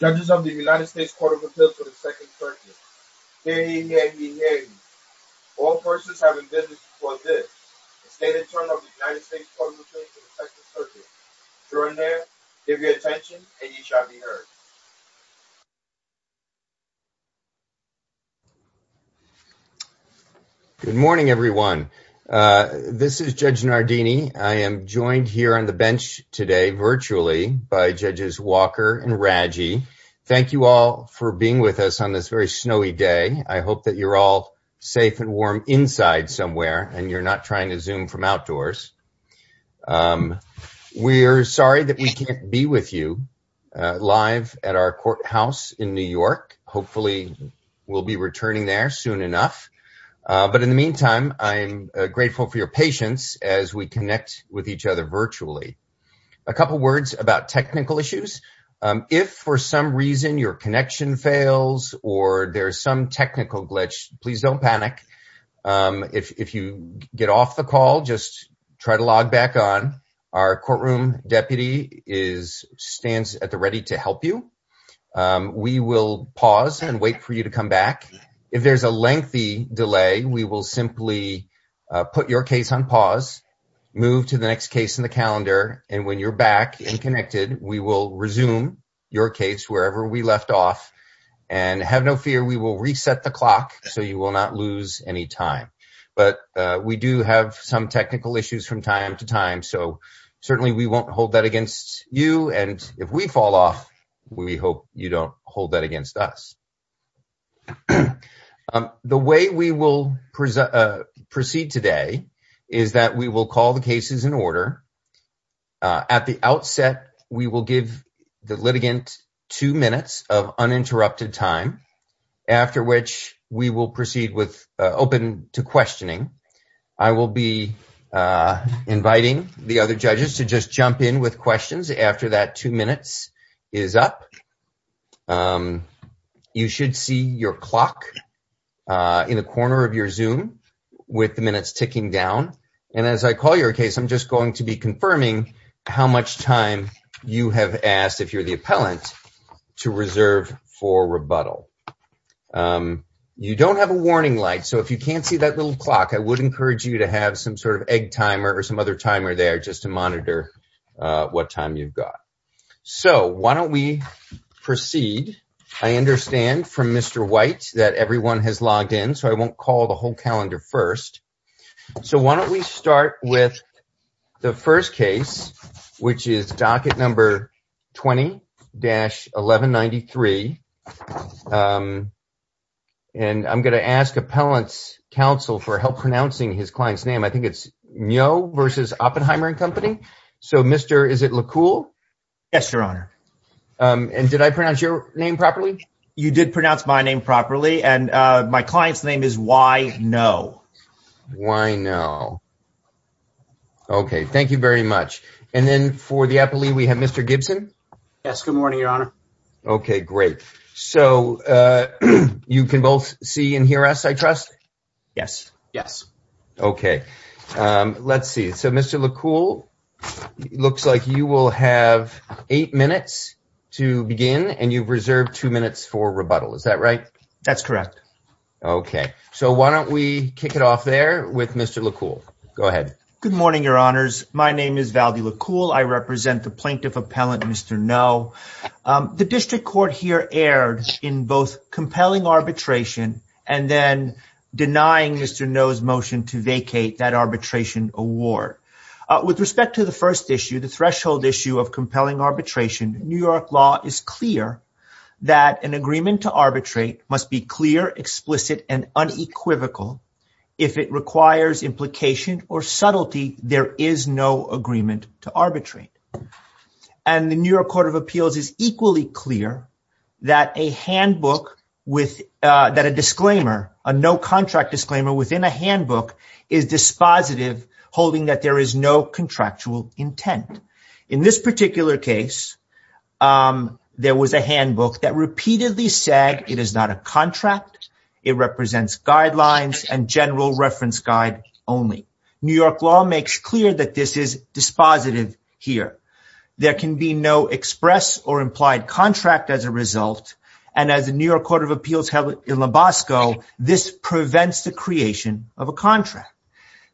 Good morning, everyone. This is Judge Nardini. I am joined here on the bench today to discuss virtually by Judges Walker and Raggi. Thank you all for being with us on this very snowy day. I hope that you're all safe and warm inside somewhere and you're not trying to Zoom from outdoors. We're sorry that we can't be with you live at our courthouse in New York. Hopefully we'll be returning there soon enough. But in the meantime, I'm grateful for your patience as we connect with each other virtually. A couple words about technical issues. If for some reason your connection fails or there's some technical glitch, please don't panic. If you get off the call, just try to log back on. Our courtroom deputy stands at the ready to help you. We will pause and wait for you to come back. If there's a lengthy delay, we will simply put your case on pause, move to the next case in the calendar. And when you're back and connected, we will resume your case wherever we left off. And have no fear, we will reset the clock so you will not lose any time. But we do have some technical issues from time to time. So certainly we won't hold that against you. And if we fall off, we hope you don't hold that against us. The way we will proceed today is that we will call the cases in order. At the outset, we will give the litigants two minutes of uninterrupted time. After which we will proceed with open to questioning. I will be inviting the other judges to just jump in with questions after that two minutes is up. You should see your clock in the corner of your Zoom with the minutes ticking down. And as I call your case, I'm just going to be confirming how much time you have asked, if you're the appellant, to reserve for rebuttal. You don't have a warning light. So if you can't see that little clock, I would encourage you to have some sort of egg timer or some other timer there just to monitor what time you've got. So why don't we proceed? I understand from Mr. White that everyone has logged in, so I won't call the whole calendar first. So why don't we start with the first case, which is docket number 20-1193. And I'm going to ask appellant's counsel for help pronouncing his client's name. I think it's Myo versus Oppenheimer and Company. So, Mr. Is it Lekul? Yes, Your Honor. And did I pronounce your name properly? You did pronounce my name properly, and my client's name is Wynow. Wynow. Okay, thank you very much. And then for the appellee, we have Mr. Gibson. Yes, good morning, Your Honor. Okay, great. So you can both see and hear us, I trust? Yes, yes. Okay, let's see. So, Mr. Lekul, looks like you will have eight minutes to begin, and you've reserved two minutes for rebuttal. Is that right? That's correct. Okay, so why don't we kick it off there with Mr. Lekul. Go ahead. Good morning, Your Honors. My name is Valdi Lekul. I represent the plaintiff appellant, Mr. Noe. The district court here erred in both compelling arbitration and then denying Mr. Noe's motion to vacate that arbitration award. With respect to the first issue, the threshold issue of compelling arbitration, New York law is clear that an agreement to arbitrate must be clear, explicit, and unequivocal. If it requires implication or subtlety, there is no agreement to arbitrate. And the New York Court of Appeals is equally clear that a handbook, that a disclaimer, a no-contract disclaimer within a handbook is dispositive, holding that there is no contractual intent. In this particular case, there was a handbook that repeatedly said it is not a contract, it represents guidelines and general reference guide only. New York law makes clear that this is dispositive here. There can be no express or implied contract as a result. And as the New York Court of Appeals held in Lubasco, this prevents the creation of a contract.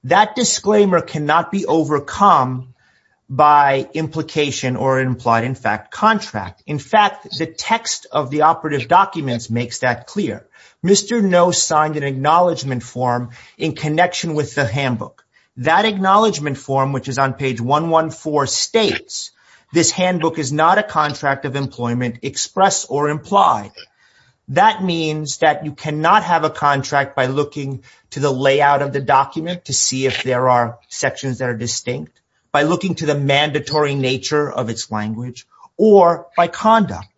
That disclaimer cannot be overcome by implication or implied, in fact, contract. In fact, the text of the operative documents makes that clear. Mr. No signed an acknowledgment form in connection with the handbook. That acknowledgment form, which is on page 114, states this handbook is not a contract of employment, express or implied. That means that you cannot have a contract by looking to the layout of the document to see if there are sections that are distinct, by looking to the mandatory nature of its language, or by conduct.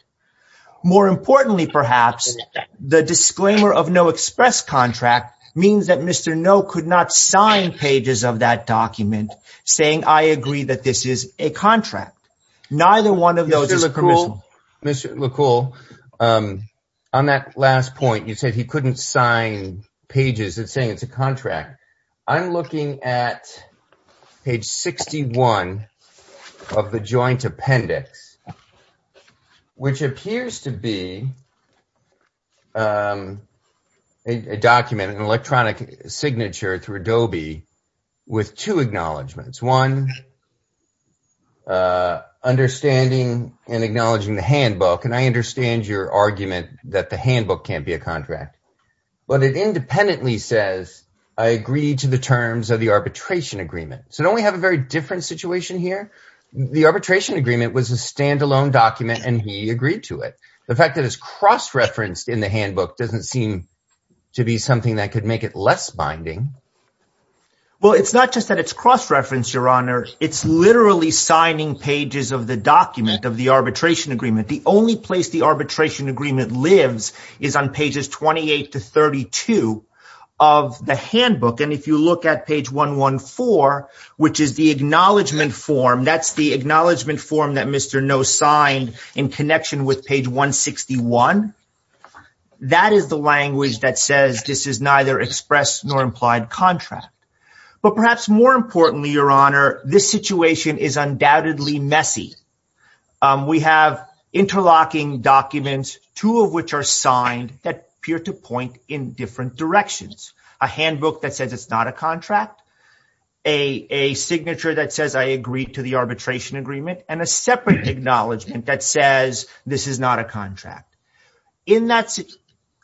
More importantly, perhaps, the disclaimer of no express contract means that Mr. No could not sign pages of that document saying I agree that this is a contract. Neither one of those is permissible. Mr. McCall, on that last point, you said he couldn't sign pages saying it's a contract. I'm looking at page 61 of the joint appendix, which appears to be a document, an electronic signature through Adobe, with two acknowledgments. That's one, understanding and acknowledging the handbook. And I understand your argument that the handbook can't be a contract. But it independently says I agree to the terms of the arbitration agreement. So don't we have a very different situation here? The arbitration agreement was a standalone document, and he agreed to it. The fact that it's cross-referenced in the handbook doesn't seem to be something that could make it less binding. Well, it's not just that it's cross-referenced, Your Honor. It's literally signing pages of the document of the arbitration agreement. The only place the arbitration agreement lives is on pages 28 to 32 of the handbook. And if you look at page 114, which is the acknowledgment form, that's the acknowledgment form that Mr. Noh signed in connection with page 161. That is the language that says this is neither express nor implied contract. But perhaps more importantly, Your Honor, this situation is undoubtedly messy. We have interlocking documents, two of which are signed, that appear to point in different directions. A handbook that says it's not a contract. A signature that says I agree to the arbitration agreement. And a separate acknowledgment that says this is not a contract.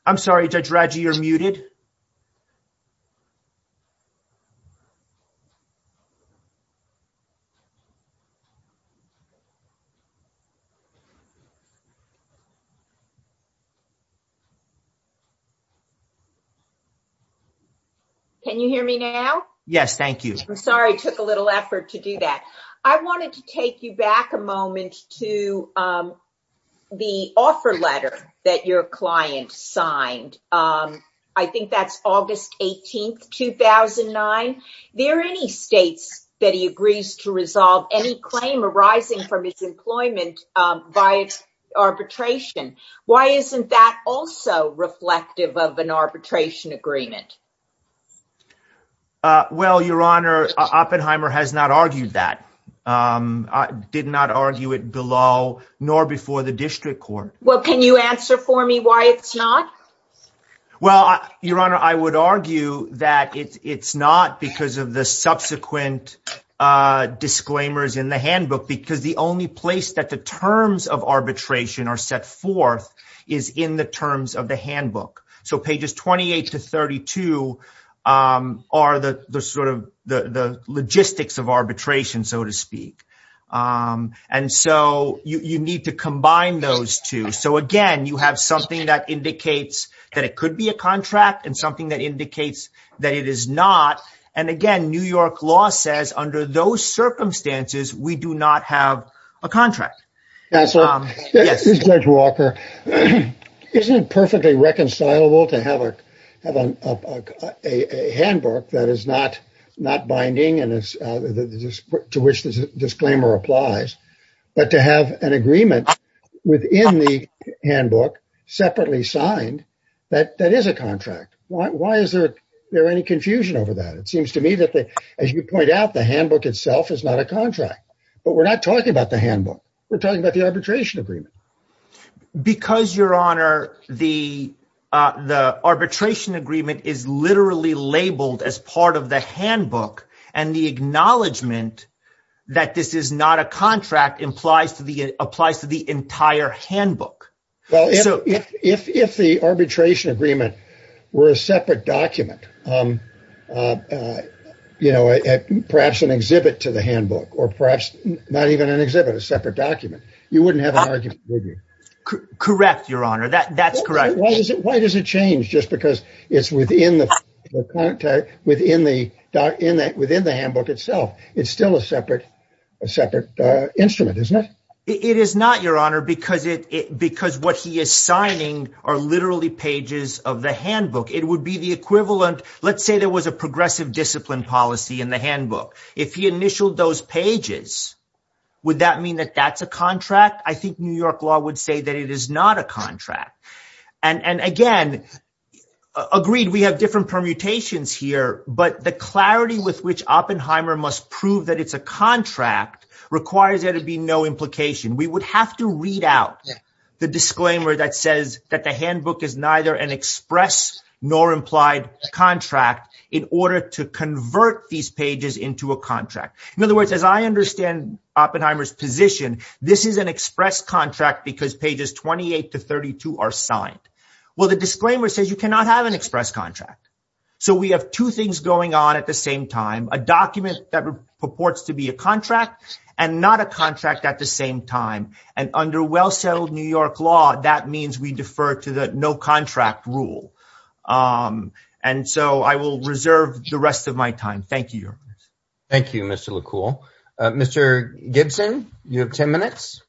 I'm sorry, Judge Roger, you're muted. Can you hear me now? Yes, thank you. I'm sorry it took a little effort to do that. I wanted to take you back a moment to the offer letter that your client signed. I think that's August 18, 2009. There are any states that he agrees to resolve any claim arising from his employment by arbitration. Why isn't that also reflective of an arbitration agreement? Well, Your Honor, Oppenheimer has not argued that. Did not argue it below nor before the district court. Well, can you answer for me why it's not? Well, Your Honor, I would argue that it's not because of the subsequent disclaimers in the handbook. Because the only place that the terms of arbitration are set forth is in the terms of the handbook. So pages 28 to 32 are the logistics of arbitration, so to speak. And so you need to combine those two. So, again, you have something that indicates that it could be a contract and something that indicates that it is not. And, again, New York law says under those circumstances we do not have a contract. Judge Walker, isn't it perfectly reconcilable to have a handbook that is not binding and to which the disclaimer applies, but to have an agreement within the handbook separately signed that is a contract? Why is there any confusion over that? It seems to me that, as you point out, the handbook itself is not a contract. But we're not talking about the handbook. We're talking about the arbitration agreement. Because, Your Honor, the arbitration agreement is literally labeled as part of the handbook, and the acknowledgment that this is not a contract applies to the entire handbook. Well, if the arbitration agreement were a separate document, you know, perhaps an exhibit to the handbook or perhaps not even an exhibit, a separate document, you wouldn't have an argument, would you? Correct, Your Honor. That's correct. Why does it change just because it's within the handbook itself? It's still a separate instrument, isn't it? It is not, Your Honor, because what he is signing are literally pages of the handbook. It would be the equivalent. Let's say there was a progressive discipline policy in the handbook. If he initialed those pages, would that mean that that's a contract? I think New York law would say that it is not a contract. And, again, agreed, we have different permutations here, but the clarity with which Oppenheimer must prove that it's a contract requires there to be no implication. We would have to read out the disclaimer that says that the handbook is neither an express nor implied contract in order to convert these pages into a contract. In other words, as I understand Oppenheimer's position, this is an express contract because pages 28 to 32 are signed. Well, the disclaimer says you cannot have an express contract. So we have two things going on at the same time, a document that purports to be a contract and not a contract at the same time. And under well-settled New York law, that means we defer to the no-contract rule. And so I will reserve the rest of my time. Thank you, Your Honor. Thank you, Mr. LaCoulle. Mr. Gibson, you have ten minutes.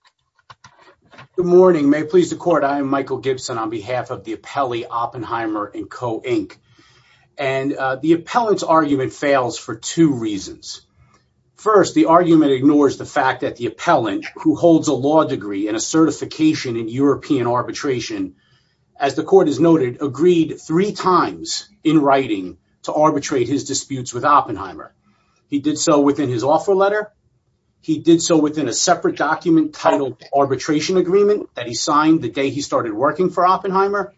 Good morning. May it please the Court, I am Michael Gibson on behalf of the appellee Oppenheimer & Co, Inc. And the appellant's argument fails for two reasons. First, the argument ignores the fact that the appellant, who holds a law degree and a certification in European arbitration, as the Court has noted, agreed three times in writing to arbitrate his disputes with Oppenheimer. He did so within his offer letter. He did so within a separate document titled Arbitration Agreement that he signed the day he started working for Oppenheimer.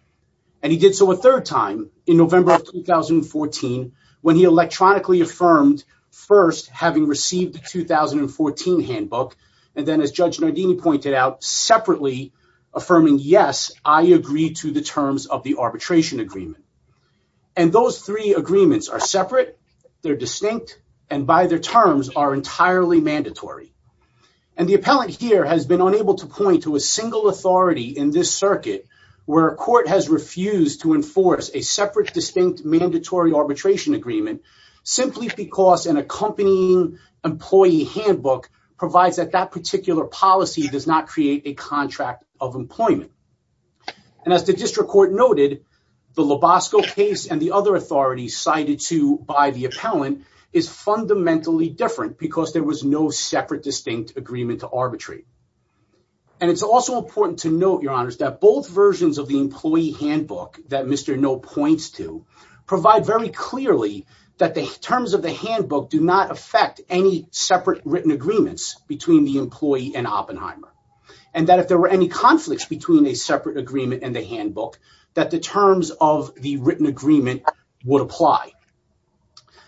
And he did so a third time in November of 2014 when he electronically affirmed, first, having received the 2014 handbook, and then, as Judge Nardini pointed out, separately affirming, yes, I agree to the terms of the arbitration agreement. And those three agreements are separate, they're distinct, and by their terms are entirely mandatory. And the appellant here has been unable to point to a single authority in this circuit where a court has refused to enforce a separate, distinct, mandatory arbitration agreement simply because an accompanying employee handbook provides that that particular policy does not create a contract of employment. And as the District Court noted, the Lobosco case and the other authorities cited to by the appellant is fundamentally different because there was no separate, distinct agreement to arbitrate. And it's also important to note, Your Honors, that both versions of the employee handbook that Mr. Noh points to provide very clearly that the terms of the handbook do not affect any separate written agreements between the employee and Oppenheimer. And that if there were any conflicts between a separate agreement and the handbook, that the terms of the written agreement would apply.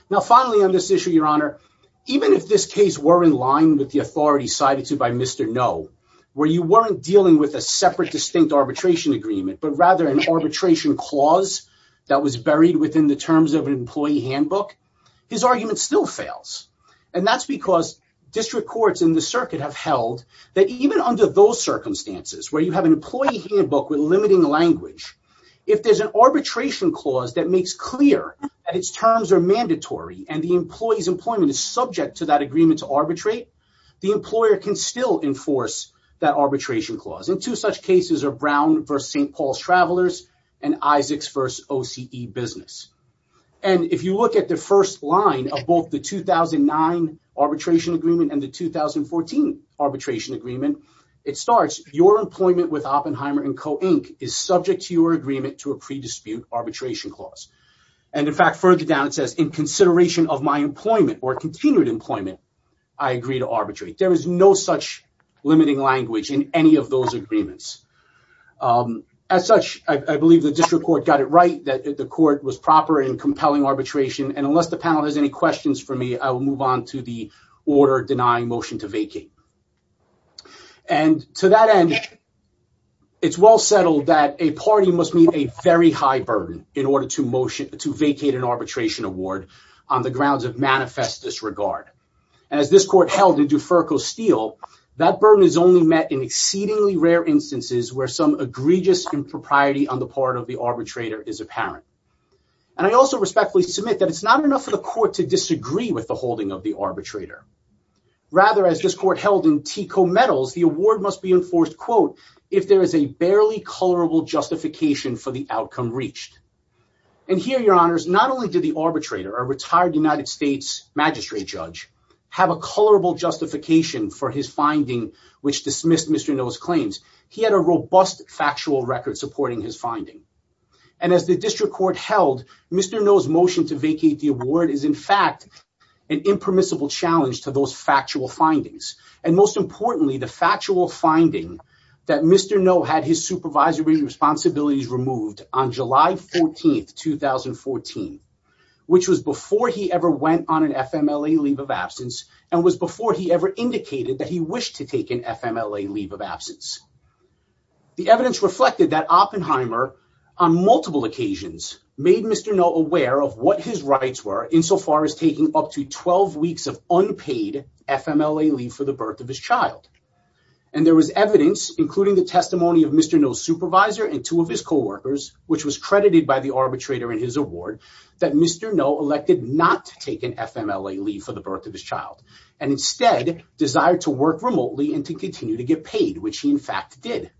Now, finally on this issue, Your Honor, even if this case were in line with the authority cited to by Mr. Noh, where you weren't dealing with a separate, distinct arbitration agreement, but rather an arbitration clause that was buried within the terms of an employee handbook, his argument still fails. And that's because District Courts in the circuit have held that even under those circumstances, where you have an employee handbook with limiting language, if there's an arbitration clause that makes clear that its terms are mandatory and the employee's employment is subject to that agreement to arbitrate, the employer can still enforce that arbitration clause. And two such cases are Brown v. St. Paul's Travelers and Isaacs v. OCE Business. And if you look at the first line of both the 2009 arbitration agreement and the 2014 arbitration agreement, it starts, Your employment with Oppenheimer and Co. Inc. is subject to your agreement to a pre-dispute arbitration clause. And in fact, further down it says, In consideration of my employment or continued employment, I agree to arbitrate. There is no such limiting language in any of those agreements. As such, I believe the District Court got it right that the court was proper in compelling arbitration, and unless the panel has any questions for me, I will move on to the order denying motion to vacate. And to that end, it's well settled that a party must meet a very high burden in order to vacate an arbitration award on the grounds of manifest disregard. As this court held in DuFerco Steel, that burden is only met in exceedingly rare instances where some egregious impropriety on the part of the arbitrator is apparent. And I also respectfully submit that it's not enough for the court to disagree with the holding of the arbitrator. Rather, as this court held in TECO Metals, the award must be enforced, quote, if there is a barely colorable justification for the outcome reached. And here, Your Honors, not only did the arbitrator, a retired United States magistrate judge, have a colorable justification for his finding which dismissed Mr. Nill's claims, he had a robust factual record supporting his finding. And as the District Court held, Mr. Nill's motion to vacate the award is in fact an impermissible challenge to those factual findings. And most importantly, the factual finding that Mr. Nill had his supervisory responsibility removed on July 14, 2014, which was before he ever went on an FMLA leave of absence and was before he ever indicated that he wished to take an FMLA leave of absence. The evidence reflected that Oppenheimer, on multiple occasions, made Mr. Nill aware of what his rights were insofar as taking up to 12 weeks of unpaid FMLA leave for the birth of his child. And there was evidence, including the testimony of Mr. Nill's supervisor and two of his coworkers, which was credited by the arbitrator in his award, that Mr. Nill elected not to take an FMLA leave for the birth of his child and instead desired to work remotely and to continue to get paid, which he in fact did.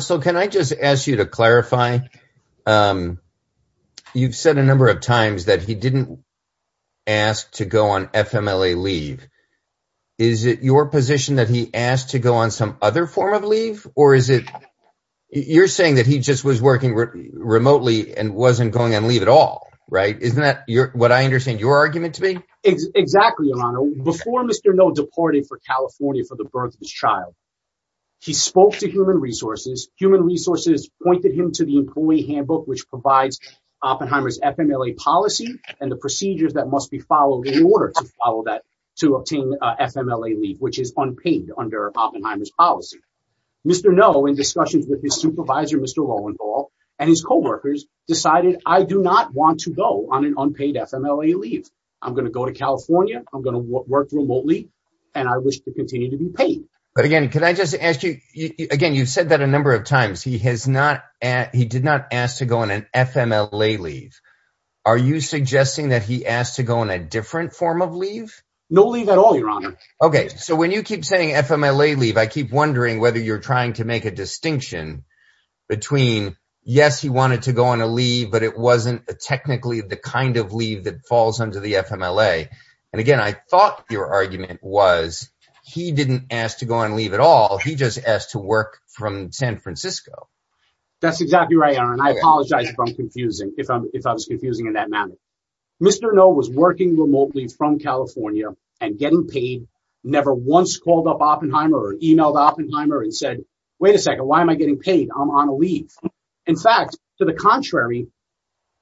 So can I just ask you to clarify? You've said a number of times that he didn't ask to go on FMLA leave. Is it your position that he asked to go on some other form of leave, or is it—you're saying that he just was working remotely and wasn't going on leave at all, right? Isn't that what I understand your argument to be? Exactly, Your Honor. Before Mr. Nill deported for California for the birth of his child, he spoke to Human Resources. Human Resources pointed him to the employee handbook, which provides Oppenheimer's FMLA policy and the procedures that must be followed in order to follow that—to obtain FMLA leave, which is unpaid under Oppenheimer's policy. Mr. Nill, in discussions with his supervisor, Mr. Roentgel, and his coworkers, decided, I do not want to go on an unpaid FMLA leave. I'm going to go to California, I'm going to work remotely, and I wish to continue to be paid. But again, can I just ask you—again, you've said that a number of times. He has not—he did not ask to go on an FMLA leave. Are you suggesting that he asked to go on a different form of leave? No leave at all, Your Honor. Okay, so when you keep saying FMLA leave, I keep wondering whether you're trying to make a distinction between, yes, he wanted to go on a leave, but it wasn't technically the kind of leave that falls under the FMLA. And again, I thought your argument was, he didn't ask to go on leave at all. He just asked to work from San Francisco. That's exactly right, Your Honor, and I apologize if I'm confusing— if I'm—if I was confusing in that matter. Mr. Nill was working remotely from California and getting paid, never once called up Oppenheimer or emailed Oppenheimer and said, wait a second, why am I getting paid? I'm on a leave. In fact, to the contrary,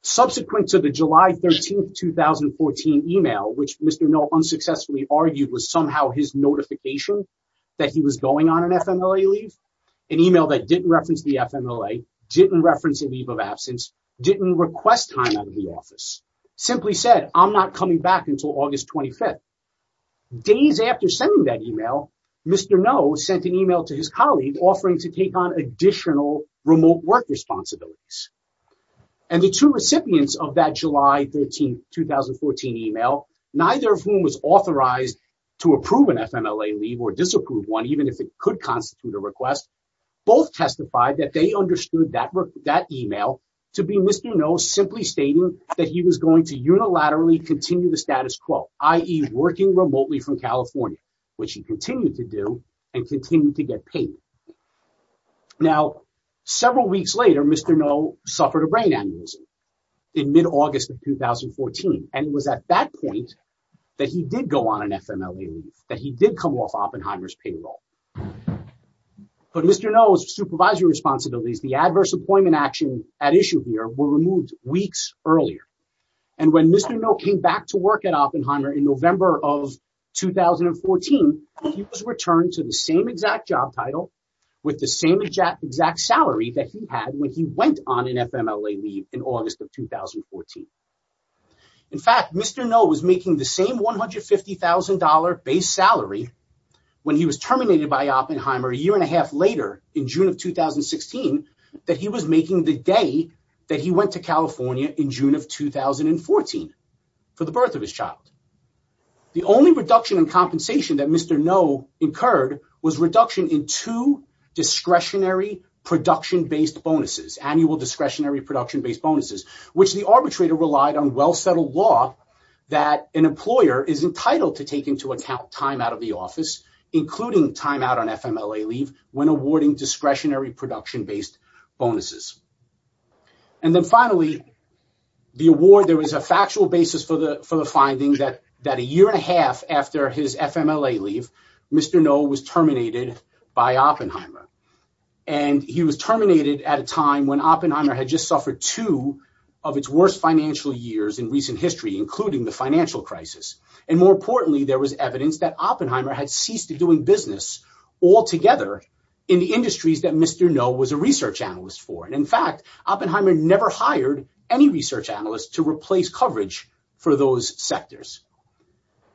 subsequent to the July 13th, 2014 email, which Mr. Nill unsuccessfully argued was somehow his notification that he was going on an FMLA leave, an email that didn't reference the FMLA, didn't reference a leave of absence, didn't request time out of the office, simply said, I'm not coming back until August 25th. Days after sending that email, Mr. Nill sent an email to his colleague offering to take on additional remote work responsibilities. And the two recipients of that July 13th, 2014 email, neither of whom was authorized to approve an FMLA leave or disapprove one, even if it could constitute a request, both testified that they understood that email to be Mr. Nill simply stating that he was going to unilaterally continue the status quo, i.e. working remotely from California, which he continued to do and continued to get paid. Now, several weeks later, Mr. Nill suffered a brain aneurysm in mid-August of 2014. And it was at that point that he did go on an FMLA leave, that he did come off Oppenheimer's payroll. But Mr. Nill's supervisory responsibilities, the adverse employment actions at issue here were removed weeks earlier. And when Mr. Nill came back to work at Oppenheimer in November of 2014, he was returned to the same exact job title with the same exact salary that he had when he went on an FMLA leave in August of 2014. In fact, Mr. Nill was making the same $150,000 base salary when he was terminated by Oppenheimer a year and a half later in June of 2016 that he was making the day that he went to California in June of 2014 for the birth of his child. The only reduction in compensation that Mr. Nill incurred was reduction in two discretionary production-based bonuses, annual discretionary production-based bonuses, which the arbitrator relied on well-settled law that an employer is entitled to take into account time out of the office, including time out on FMLA leave when awarding discretionary production-based bonuses. And then finally, the award, there was a factual basis for the finding that a year and a half after his FMLA leave, Mr. Nill was terminated by Oppenheimer. And he was terminated at a time when Oppenheimer had just suffered two of its worst financial years in recent history, including the financial crisis. And more importantly, there was evidence that Oppenheimer had ceased doing business altogether in the industries that Mr. Nill was a research analyst for. And in fact, Oppenheimer never hired any research analyst to replace coverage for those sectors.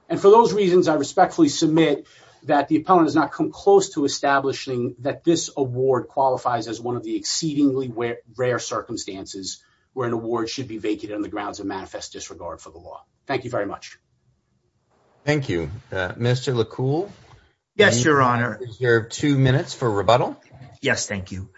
And for those reasons, I respectfully submit that the opponent has not come close to establishing that this award qualifies as one of the exceedingly rare circumstances where an award should be vented on the grounds of manifest disregard for the law. Thank you very much. Thank you. Mr. LaCoult? Yes, Your Honor. Is there two minutes for rebuttal? Yes, thank you.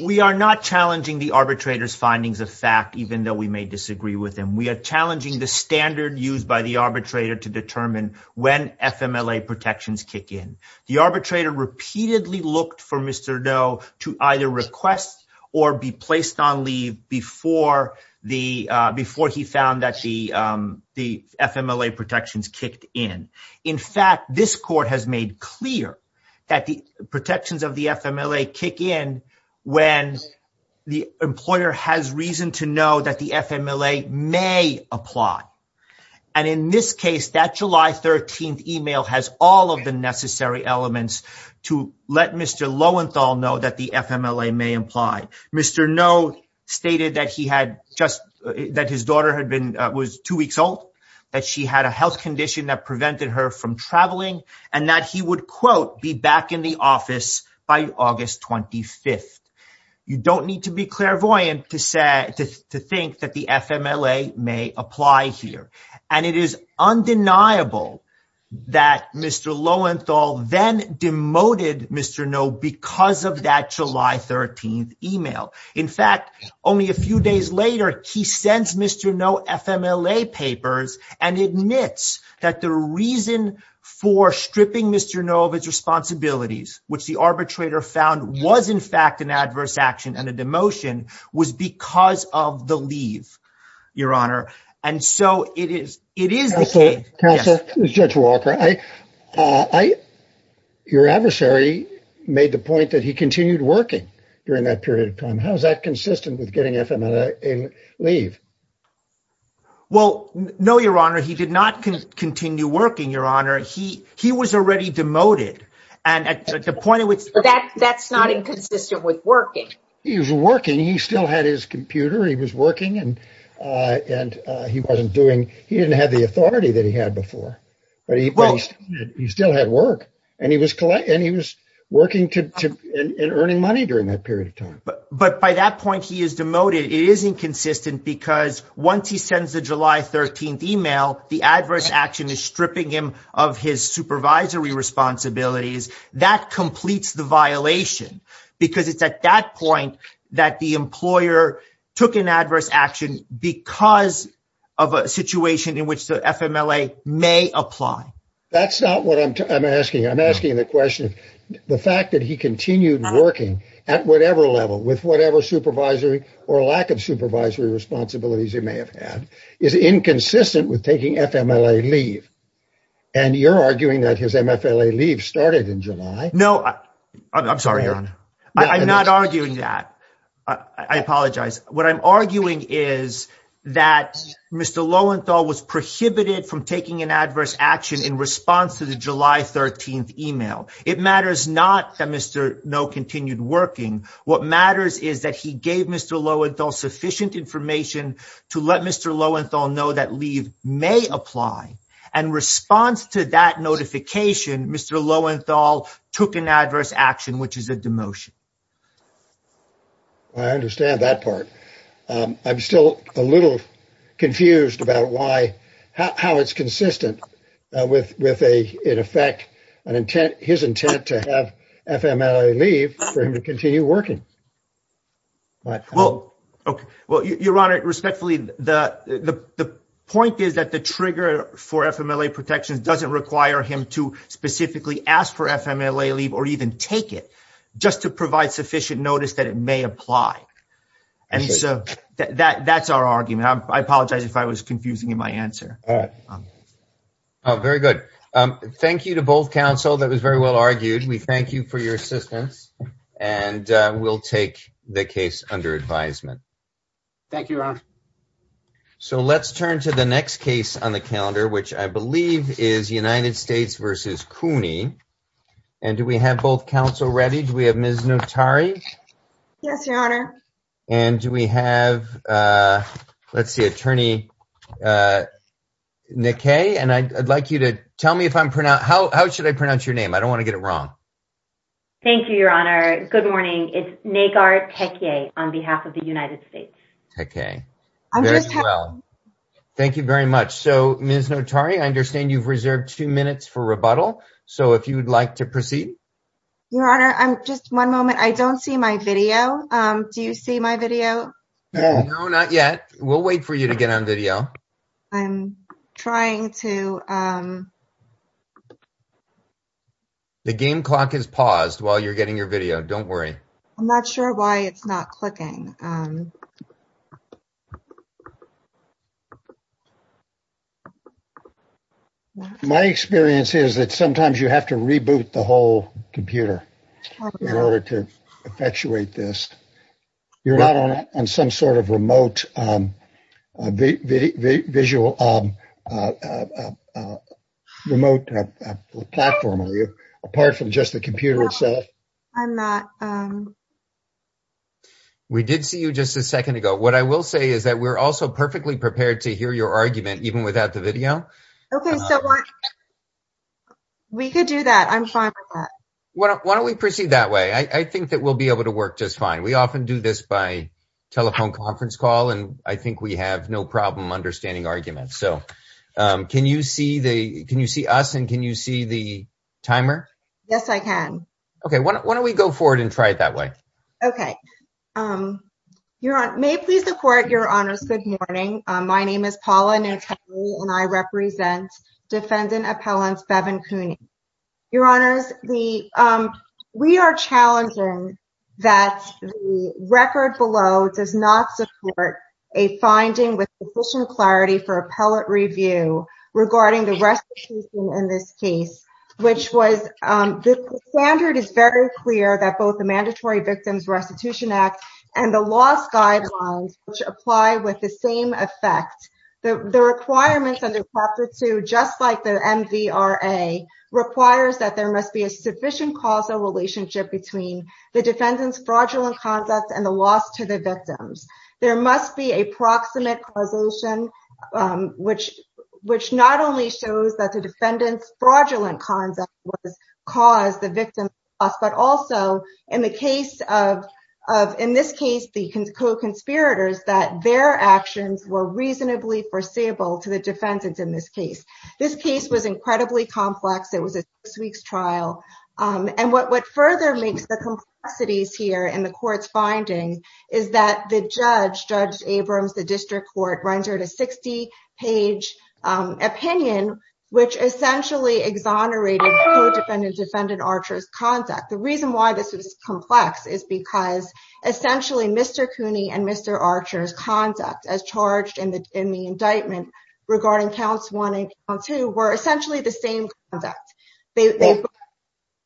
We are not challenging the arbitrator's findings of fact even though we may disagree with them. We are challenging the standard used by the arbitrator to determine when FMLA protections kick in. The arbitrator repeatedly looked for Mr. Nill to either request or be placed on leave before he found that the FMLA protections kicked in. In fact, this court has made clear that the protections of the FMLA kick in when the employer has reason to know that the FMLA may apply. And in this case, that July 13th email has all of the necessary elements to let Mr. Lowenthal know that the FMLA may apply. Mr. Nill stated that his daughter was two weeks old, that she had a health condition that prevented her from traveling, and that he would, quote, be back in the office by August 25th. You don't need to be clairvoyant to think that the FMLA may apply here. And it is undeniable that Mr. Lowenthal then demoted Mr. Nill because of that July 13th email. In fact, only a few days later, he sends Mr. Nill FMLA papers and admits that the reason for stripping Mr. Nill of his responsibilities, which the arbitrator found was in fact an adverse action and a demotion, was because of the leave, Your Honor. And so it is the case. Counsel, this is Judge Walker. Your adversary made the point that he continued working during that period of time. How is that consistent with getting FMLA leave? Well, no, Your Honor. He did not continue working, Your Honor. He was already demoted. That's not inconsistent with working. He was working. He still had his computer. He was working, and he didn't have the authority that he had before. He still had work. And he was working and earning money during that period of time. But by that point, he is demoted. It is inconsistent because once he sends the July 13th email, the adverse action is stripping him of his supervisory responsibilities. That completes the violation because it's at that point that the employer took an adverse action because of a situation in which the FMLA may apply. That's not what I'm asking. I'm asking the question, the fact that he continued working at whatever level, with whatever supervisory or lack of supervisory responsibilities he may have had, is inconsistent with taking FMLA leave. And you're arguing that his FMLA leave started in July. No, I'm sorry, Your Honor. I'm not arguing that. I apologize. What I'm arguing is that Mr. Lowenthal was prohibited from taking an adverse action in response to the July 13th email. It matters not that Mr. Noh continued working. What matters is that he gave Mr. Lowenthal sufficient information to let Mr. Lowenthal know that leave may apply. In response to that notification, Mr. Lowenthal took an adverse action, which is a demotion. I understand that part. I'm still a little confused about how it's consistent with, in effect, his intent to have FMLA leave for him to continue working. Well, Your Honor, respectfully, the point is that the trigger for FMLA protection doesn't require him to specifically ask for FMLA leave or even take it, just to provide sufficient notice that it may apply. And so that's our argument. I apologize if I was confusing you in my answer. All right. Very good. Thank you to both counsel. That was very well argued. We thank you for your assistance. And we'll take the case under advisement. Thank you, Your Honor. So let's turn to the next case on the calendar, which I believe is United States v. Cooney. And do we have both counsel ready? Do we have Ms. Notari? Yes, Your Honor. And do we have, let's see, Attorney Nakei. And I'd like you to tell me if I'm pronouncing, how should I pronounce your name? I don't want to get it wrong. Thank you, Your Honor. Good morning. It's Nagar Peckier on behalf of the United States. Okay. Thank you very much. So Ms. Notari, I understand you've reserved two minutes for rebuttal. So if you would like to proceed. Your Honor, just one moment. I don't see my video. Do you see my video? No, not yet. We'll wait for you to get on video. I'm trying to. The game clock is paused while you're getting your video. Don't worry. I'm not sure why it's not clicking. My experience is that sometimes you have to reboot the whole computer in order to perpetuate this. You're not on some sort of remote visual, remote platform, are you, apart from just the computer itself? I'm not. We did see you just a second ago. What I will say is that we're also perfectly prepared to hear your argument even without the video. Okay. We could do that. I'm fine with that. Why don't we proceed that way? I think that we'll be able to work just fine. We often do this by telephone conference call, and I think we have no problem understanding arguments. So can you see us and can you see the timer? Yes, I can. Okay. Why don't we go forward and try it that way? Okay. Your Honor, may it please the Court, Your Honor, good morning. My name is Paula Nishihara, and I represent Defendant Appellant Bevin Cooney. Your Honor, we are challenging that the record below does not support a finding with sufficient clarity for appellate review regarding the restitution in this case, which was the standard is very clear that both the Mandatory Distance Restitution Act and the law's guidelines, which apply with the same effect. The requirements under Chapter 2, just like the MVRA, requires that there must be a sufficient causal relationship between the defendant's fraudulent conduct and the loss to the victims. There must be a proximate causation, which not only shows that the defendant's fraudulent conduct caused the victim's loss, but also in the case of, in this case, the co-conspirators, that their actions were reasonably foreseeable to the defendant in this case. This case was incredibly complex. It was a six-week trial. And what further links the complexities here in the court's findings is that the judge, Judge Abrams, the district court, rendered a 60-page opinion, which essentially exonerated the co-defendant's defendant, Archer's, conduct. The reason why this is complex is because, essentially, Mr. Cooney and Mr. Archer's conduct as charged in the indictment regarding counts 1 and 2 were essentially the same conduct. They both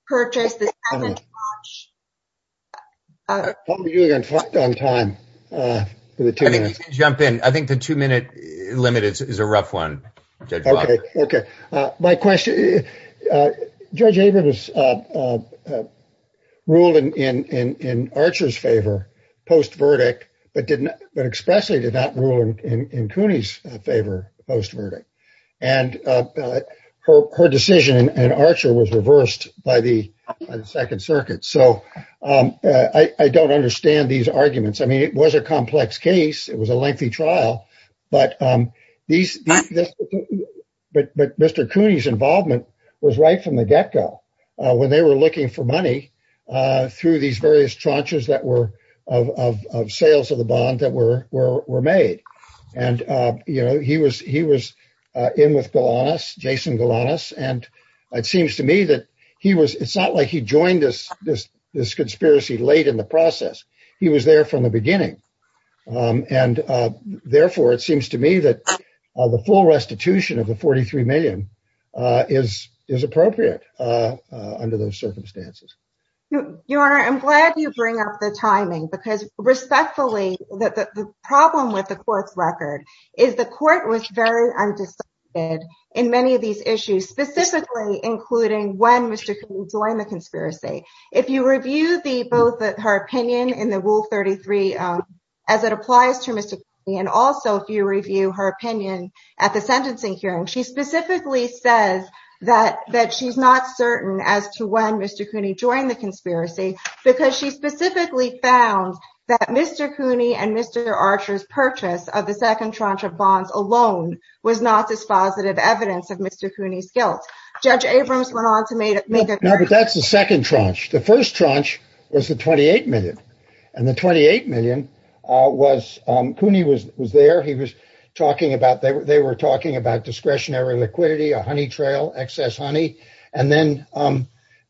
purchased the defendant's watch. I think the two-minute limit is a rough one. Okay. My question, Judge Abrams ruled in Archer's favor post-verdict, but expressly did not rule in Cooney's favor post-verdict. And her decision in Archer was reversed by the Second Circuit. So I don't understand these arguments. I mean, it was a complex case. It was a lengthy trial. But Mr. Cooney's involvement was right from the get-go when they were looking for money through these various tranches of sales of the bond that were made. And, you know, he was in with Golas, Jason Golas. And it seems to me that he was ‑‑ it's not like he joined this conspiracy late in the process. He was there from the beginning. And, therefore, it seems to me that the full restitution of the $43 million is appropriate under those circumstances. Your Honor, I'm glad you bring up the timing because, respectfully, the problem with the court's record is the court was very undecided in many of these issues, specifically including when Mr. Cooney joined the conspiracy. If you review her opinion in the Rule 33 as it applies to Mr. Cooney and also if you review her opinion at the sentencing hearing, she specifically says that she's not certain as to when Mr. Cooney joined the conspiracy because she specifically found that Mr. Cooney and Mr. Archer's purchase of the second tranche of bonds alone was not the positive evidence of Mr. Cooney's guilt. Judge Abrams went on to make it clear. No, but that's the second tranche. The first tranche was the $28 million. And the $28 million was ‑‑ Cooney was there. He was talking about ‑‑ they were talking about discretionary liquidity, a honey trail, excess honey. And then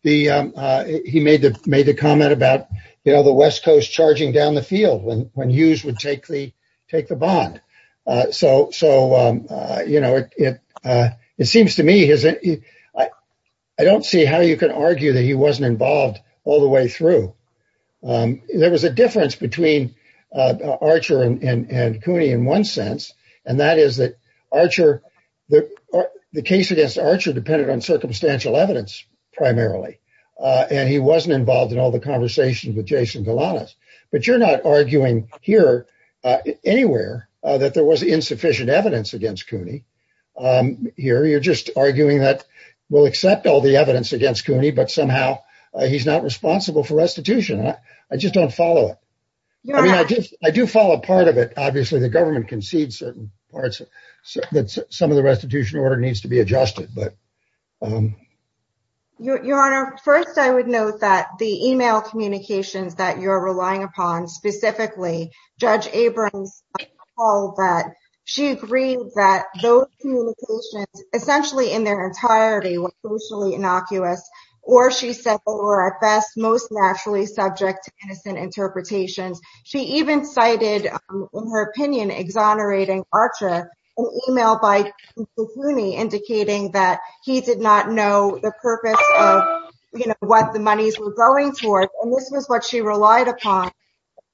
he made the comment about, you know, the West Coast charging down the field when Hughes would take the bond. So, you know, it seems to me ‑‑ I don't see how you can argue that he wasn't involved all the way through. There was a difference between Archer and Cooney in one sense, and that is that Archer ‑‑ the case against Archer depended on circumstantial evidence primarily. And he wasn't involved in all the conversations with Jason Galanis. But you're not arguing here anywhere that there was insufficient evidence against Cooney here. You're just arguing that we'll accept all the evidence against Cooney, but somehow he's not responsible for restitution. I just don't follow it. I mean, I do follow part of it. Obviously, the government concedes certain parts that some of the restitution order needs to be adjusted. Your Honor, first I would note that the e‑mail communications that you're relying upon, specifically Judge Abrams' call that she agreed that those communications, essentially in their entirety, were socially innocuous. Or she said they were at best most naturally subject to innocent interpretation. She even cited, in her opinion, exonerating Archer, an e‑mail by Mr. Cooney indicating that he did not know the purpose of what the monies were going towards. And this is what she relied upon,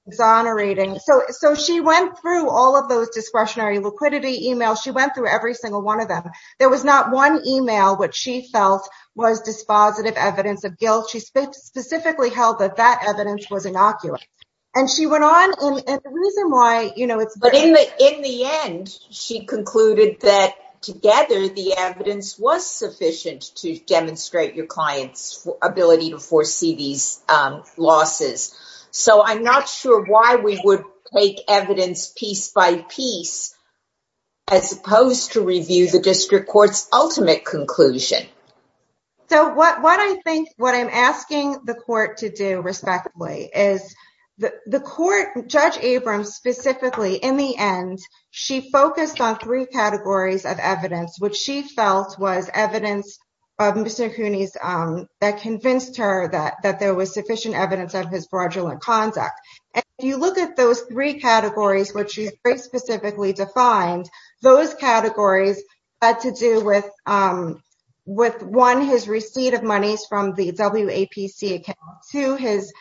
exonerating. So she went through all of those discretionary liquidity e‑mails. She went through every single one of them. There was not one e‑mail which she felt was dispositive evidence of guilt. She specifically held that that evidence was innocuous. And she went on. But in the end, she concluded that together the evidence was sufficient to demonstrate your client's ability to foresee these losses. So I'm not sure why we would take evidence piece by piece as opposed to review the district court's ultimate conclusion. So what I think, what I'm asking the court to do, respectively, is the court, Judge Abrams specifically, in the end, she focused on three categories of evidence, which she felt was evidence of Mr. Cooney's, that convinced her that there was sufficient evidence of his fraudulent conduct. And if you look at those three categories, which she very specifically defined, those categories had to do with, one, his receipt of monies from the WAPC account. Two, his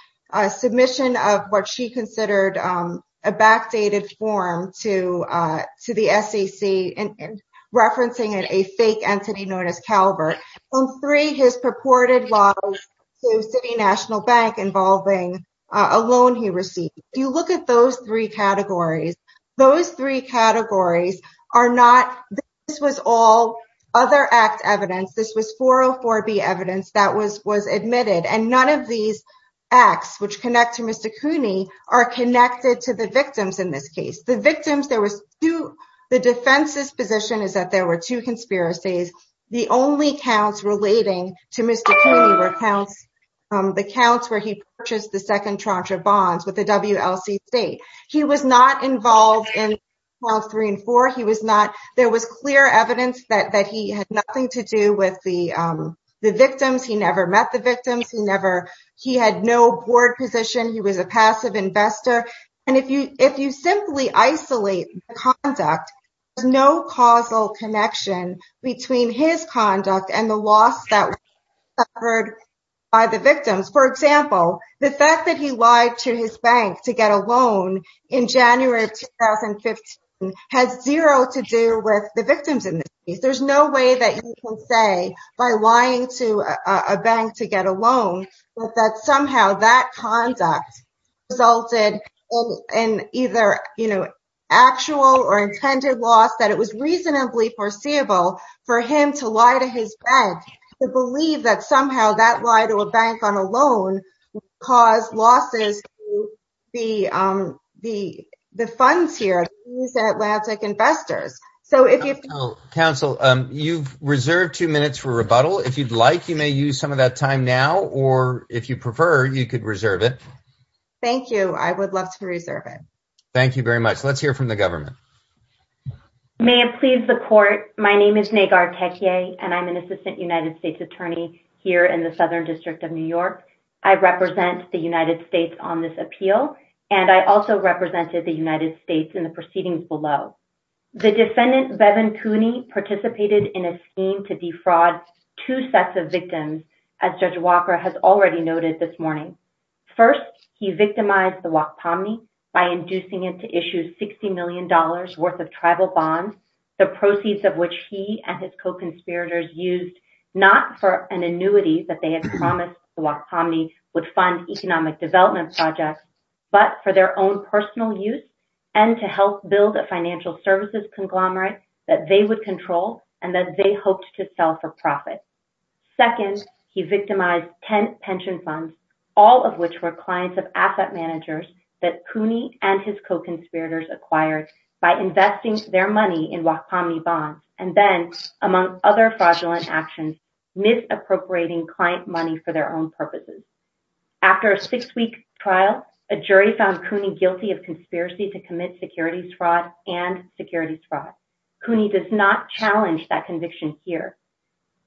submission of what she considered a backdated form to the SEC, referencing it as a fake entity notice caliber. And three, his purported loss to City National Bank involving a loan he received. If you look at those three categories, those three categories are not, this was all other act evidence. This was 404B evidence that was admitted. And none of these acts, which connect to Mr. Cooney, are connected to the victims in this case. The victims, there was two, the defense's position is that there were two conspiracies. The only counts relating to Mr. Cooney were the counts where he purchased the second tranche of bonds with the WLC State. He was not involved in 2012, 3, and 4. He was not, there was clear evidence that he had nothing to do with the victims. He never met the victims. He never, he had no board position. He was a passive investor. And if you simply isolate the conduct, there's no causal connection between his conduct and the loss that was suffered by the victims. For example, the fact that he lied to his bank to get a loan in January of 2015 has zero to do with the victims in this case. There's no way that you can say by lying to a bank to get a loan that somehow that conduct resulted in either actual or intended loss, that it was reasonably foreseeable for him to lie to his bank to believe that somehow that lie to a bank on a loan caused losses to the funds here, to these Atlantic investors. Counsel, you've reserved two minutes for rebuttal. If you'd like, you may use some of that time now. Or if you prefer, you could reserve it. Thank you. I would love to reserve it. Thank you very much. Let's hear from the government. May it please the court. My name is Nagar Tekia, and I'm an assistant United States attorney here in the Southern District of New York. I represent the United States on this appeal. And I also represented the United States in the proceedings below. The defendant, Bevan Cooney, participated in a scheme to defraud two sets of victims, as Judge Walker has already noted this morning. First, he victimized the Wachtomney by inducing it to issue $60 million worth of tribal bonds, the proceeds of which he and his co-conspirators used not for an annuity that they had promised the Wachtomney would fund economic development projects, but for their own personal use and to help build a financial services conglomerate that they would control and that they hoped to sell for profit. Second, he victimized 10 pension funds, all of which were clients of asset managers that Cooney and his co-conspirators acquired by investing their money in Wachtomney bonds, and then, among other fraudulent actions, misappropriating client money for their own purposes. After a six-week trial, a jury found Cooney guilty of conspiracy to commit securities fraud and securities fraud. Cooney does not challenge that conviction here.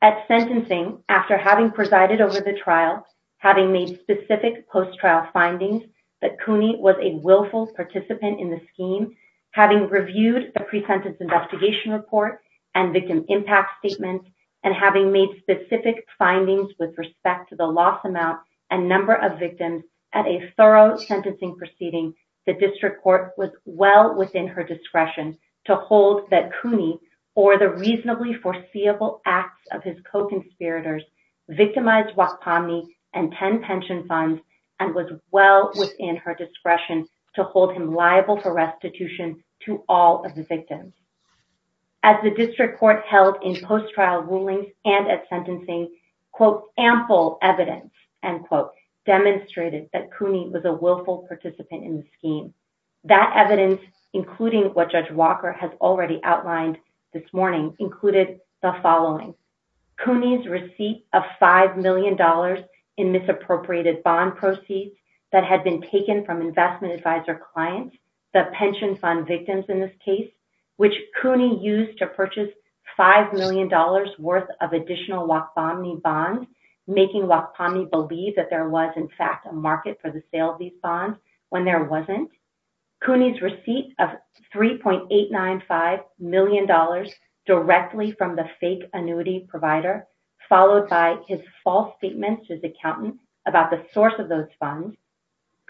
At sentencing, after having presided over the trial, having made specific post-trial findings that Cooney was a willful participant in the scheme, having reviewed the pre-sentence investigation report and victim impact statements, and having made specific findings with respect to the loss amount and number of victims at a thorough sentencing proceeding, the district court was well within her discretion to hold that Cooney, for the reasonably foreseeable acts of his co-conspirators, victimized Wachtomney and 10 pension funds and was well within her discretion to hold him liable for restitution to all of the victims. As the district court held in post-trial rulings and at sentencing, quote, ample evidence, end quote, demonstrated that Cooney was a willful participant in the scheme. That evidence, including what Judge Walker has already outlined this morning, included the following. Cooney's receipt of $5 million in misappropriated bond proceeds that had been taken from investment advisor clients, the pension fund victims in this case, which Cooney used to purchase $5 million worth of additional Wachtomney bonds, making Wachtomney believe that there was, in fact, a market for the sale of these bonds when there wasn't. Cooney's receipt of $3.895 million directly from the fake annuity provider, followed by his false statements to his accountant about the source of those funds.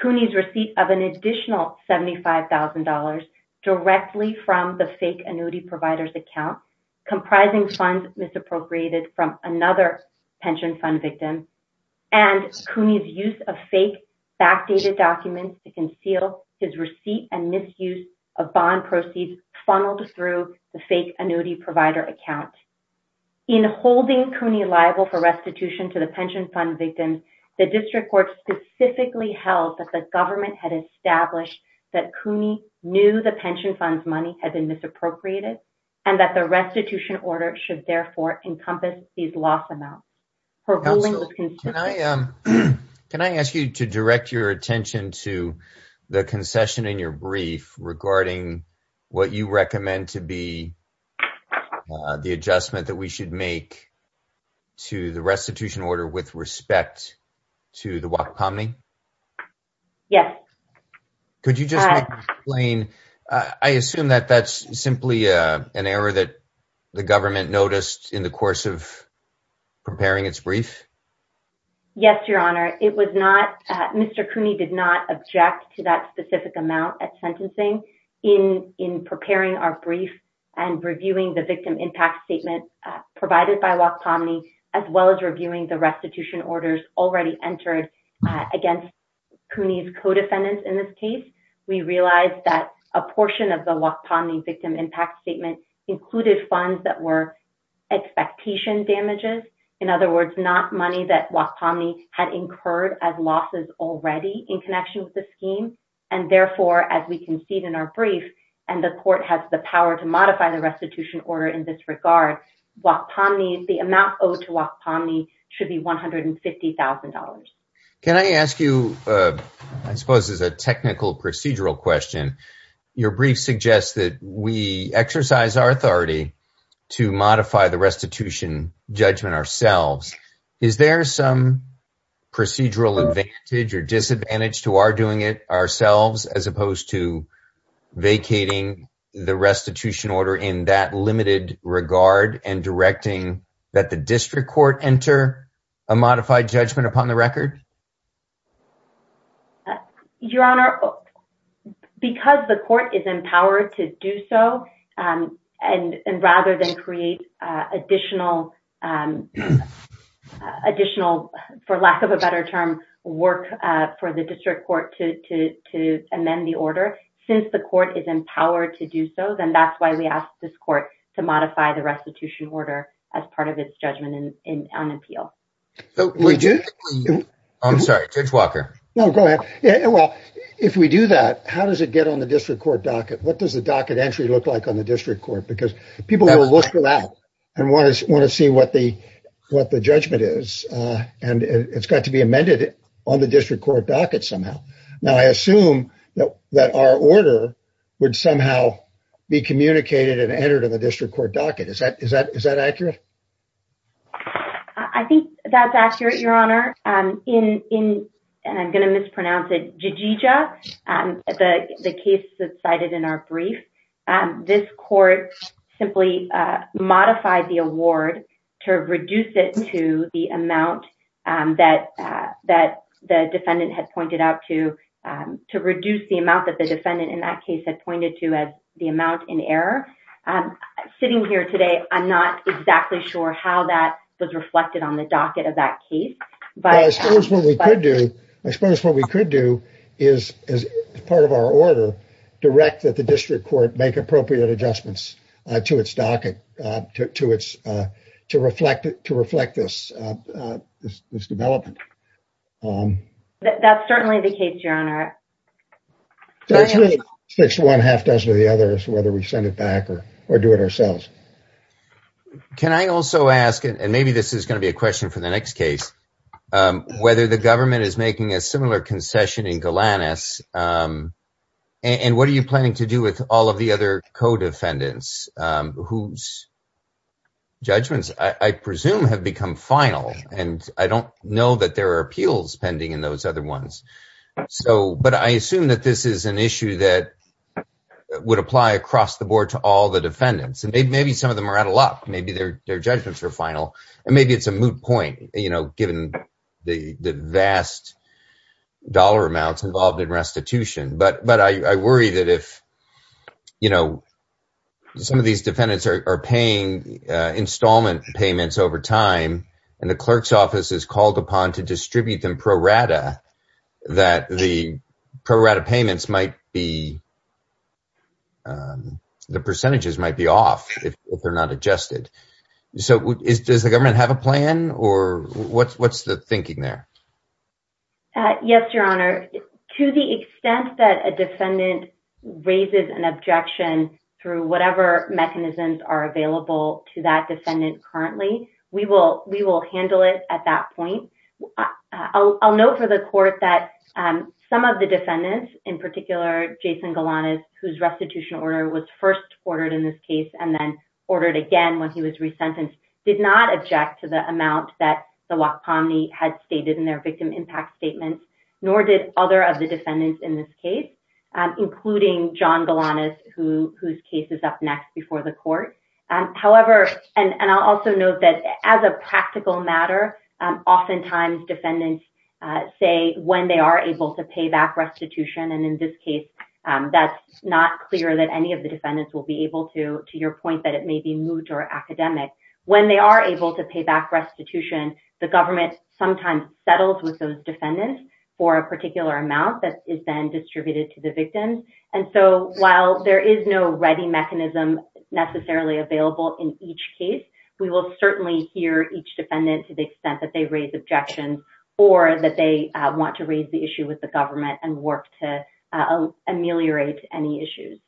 Cooney's receipt of an additional $75,000 directly from the fake annuity provider's account, comprising funds misappropriated from another pension fund victim, and Cooney's use of fake backdated documents to conceal his receipt and misuse of bond proceeds funneled through the fake annuity provider account. In holding Cooney liable for restitution to the pension fund victim, the district court specifically held that the government had established that Cooney knew the pension fund's money had been misappropriated and that the restitution order should, therefore, encompass these loss amounts. Can I ask you to direct your attention to the concession in your brief regarding what you recommend to be the adjustment that we should make to the restitution order with respect to the Wachtomney? Yes. Could you just explain, I assume that that's simply an error that the government noticed in the course of preparing its brief? Yes, Your Honor. It was not, Mr. Cooney did not object to that specific amount of sentencing in preparing our brief and reviewing the victim impact statement provided by Wachtomney, as well as reviewing the restitution orders already entered against Cooney's co-defendants in this case. We realized that a portion of the Wachtomney victim impact statement included funds that were expectation damages. In other words, not money that Wachtomney had incurred as losses already in connection with the scheme. And therefore, as we concede in our brief, and the court has the power to modify the restitution order in this regard, the amount owed to Wachtomney should be $150,000. Can I ask you, I suppose as a technical procedural question, your brief suggests that we exercise our authority to modify the restitution judgment ourselves. Is there some procedural advantage or disadvantage to our doing it ourselves, as opposed to vacating the restitution order in that limited regard and directing that the district court enter a modified judgment upon the record? Your Honor, because the court is empowered to do so, and rather than create additional, for lack of a better term, work for the district court to amend the order. Since the court is empowered to do so, then that's why we ask this court to modify the restitution order as part of its judgment on appeal. I'm sorry, Judge Walker. No, go ahead. Well, if we do that, how does it get on the district court docket? What does the docket entry look like on the district court? Because people will look for that and want to see what the judgment is. It's got to be amended on the district court docket somehow. Now, I assume that our order would somehow be communicated and entered in the district court docket. Is that accurate? I think that's accurate, Your Honor. In, and I'm going to mispronounce it, Jijija, the case that's cited in our brief, this court simply modified the award to reduce it to the amount that the defendant had pointed out to, to reduce the amount that the defendant in that case had pointed to as the amount in error. Sitting here today, I'm not exactly sure how that was reflected on the docket of that case. I suppose what we could do is, as part of our order, direct that the district court make appropriate adjustments to its docket to reflect this development. That's certainly the case, Your Honor. One half does or the other is whether we send it back or do it ourselves. Can I also ask, and maybe this is going to be a question for the next case, whether the government is making a similar concession in Golanus, and what are you planning to do with all of the other co-defendants whose judgments I presume have become final? And I don't know that there are appeals pending in those other ones. So, but I assume that this is an issue that would apply across the board to all the defendants. And maybe some of them are out of luck. Maybe their judgments are final. And maybe it's a moot point, you know, given the vast dollar amounts involved in restitution. But I worry that if, you know, some of these defendants are paying installment payments over time, and the clerk's office is called upon to distribute them pro rata, that the pro rata payments might be, the percentages might be off if they're not adjusted. So does the government have a plan, or what's the thinking there? Yes, Your Honor. To the extent that a defendant raises an objection through whatever mechanisms are available to that defendant currently, we will handle it at that point. I'll note for the court that some of the defendants, in particular, Jason Galanis, whose restitution order was first ordered in this case and then ordered again when he was resentenced, did not object to the amount that the WAC Committee had stated in their victim impact statement, nor did other of the defendants in this case, including John Galanis, whose case is up next before the court. However, and I'll also note that as a practical matter, oftentimes defendants say when they are able to pay back restitution, and in this case that's not clear that any of the defendants will be able to, to your point that it may be moot or academic. When they are able to pay back restitution, the government sometimes settles with those defendants for a particular amount that is then distributed to the victim. And so while there is no ready mechanism necessarily available in each case, we will certainly hear each defendant to the extent that they raise objections or that they want to raise the issue with the government and work to ameliorate any issues.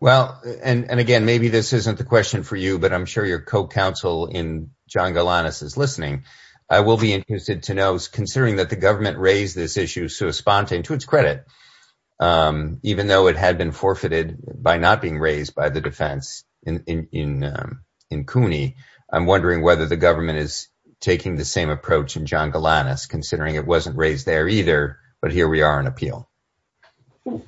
Well, and again, maybe this isn't the question for you, but I'm sure your co-counsel in John Galanis is listening. I will be interested to know, considering that the government raised this issue sort of spontaneously to its credit, even though it had been forfeited by not being raised by the defense in CUNY, I'm wondering whether the government is taking the same approach in John Galanis, considering it wasn't raised there either. But here we are on appeal.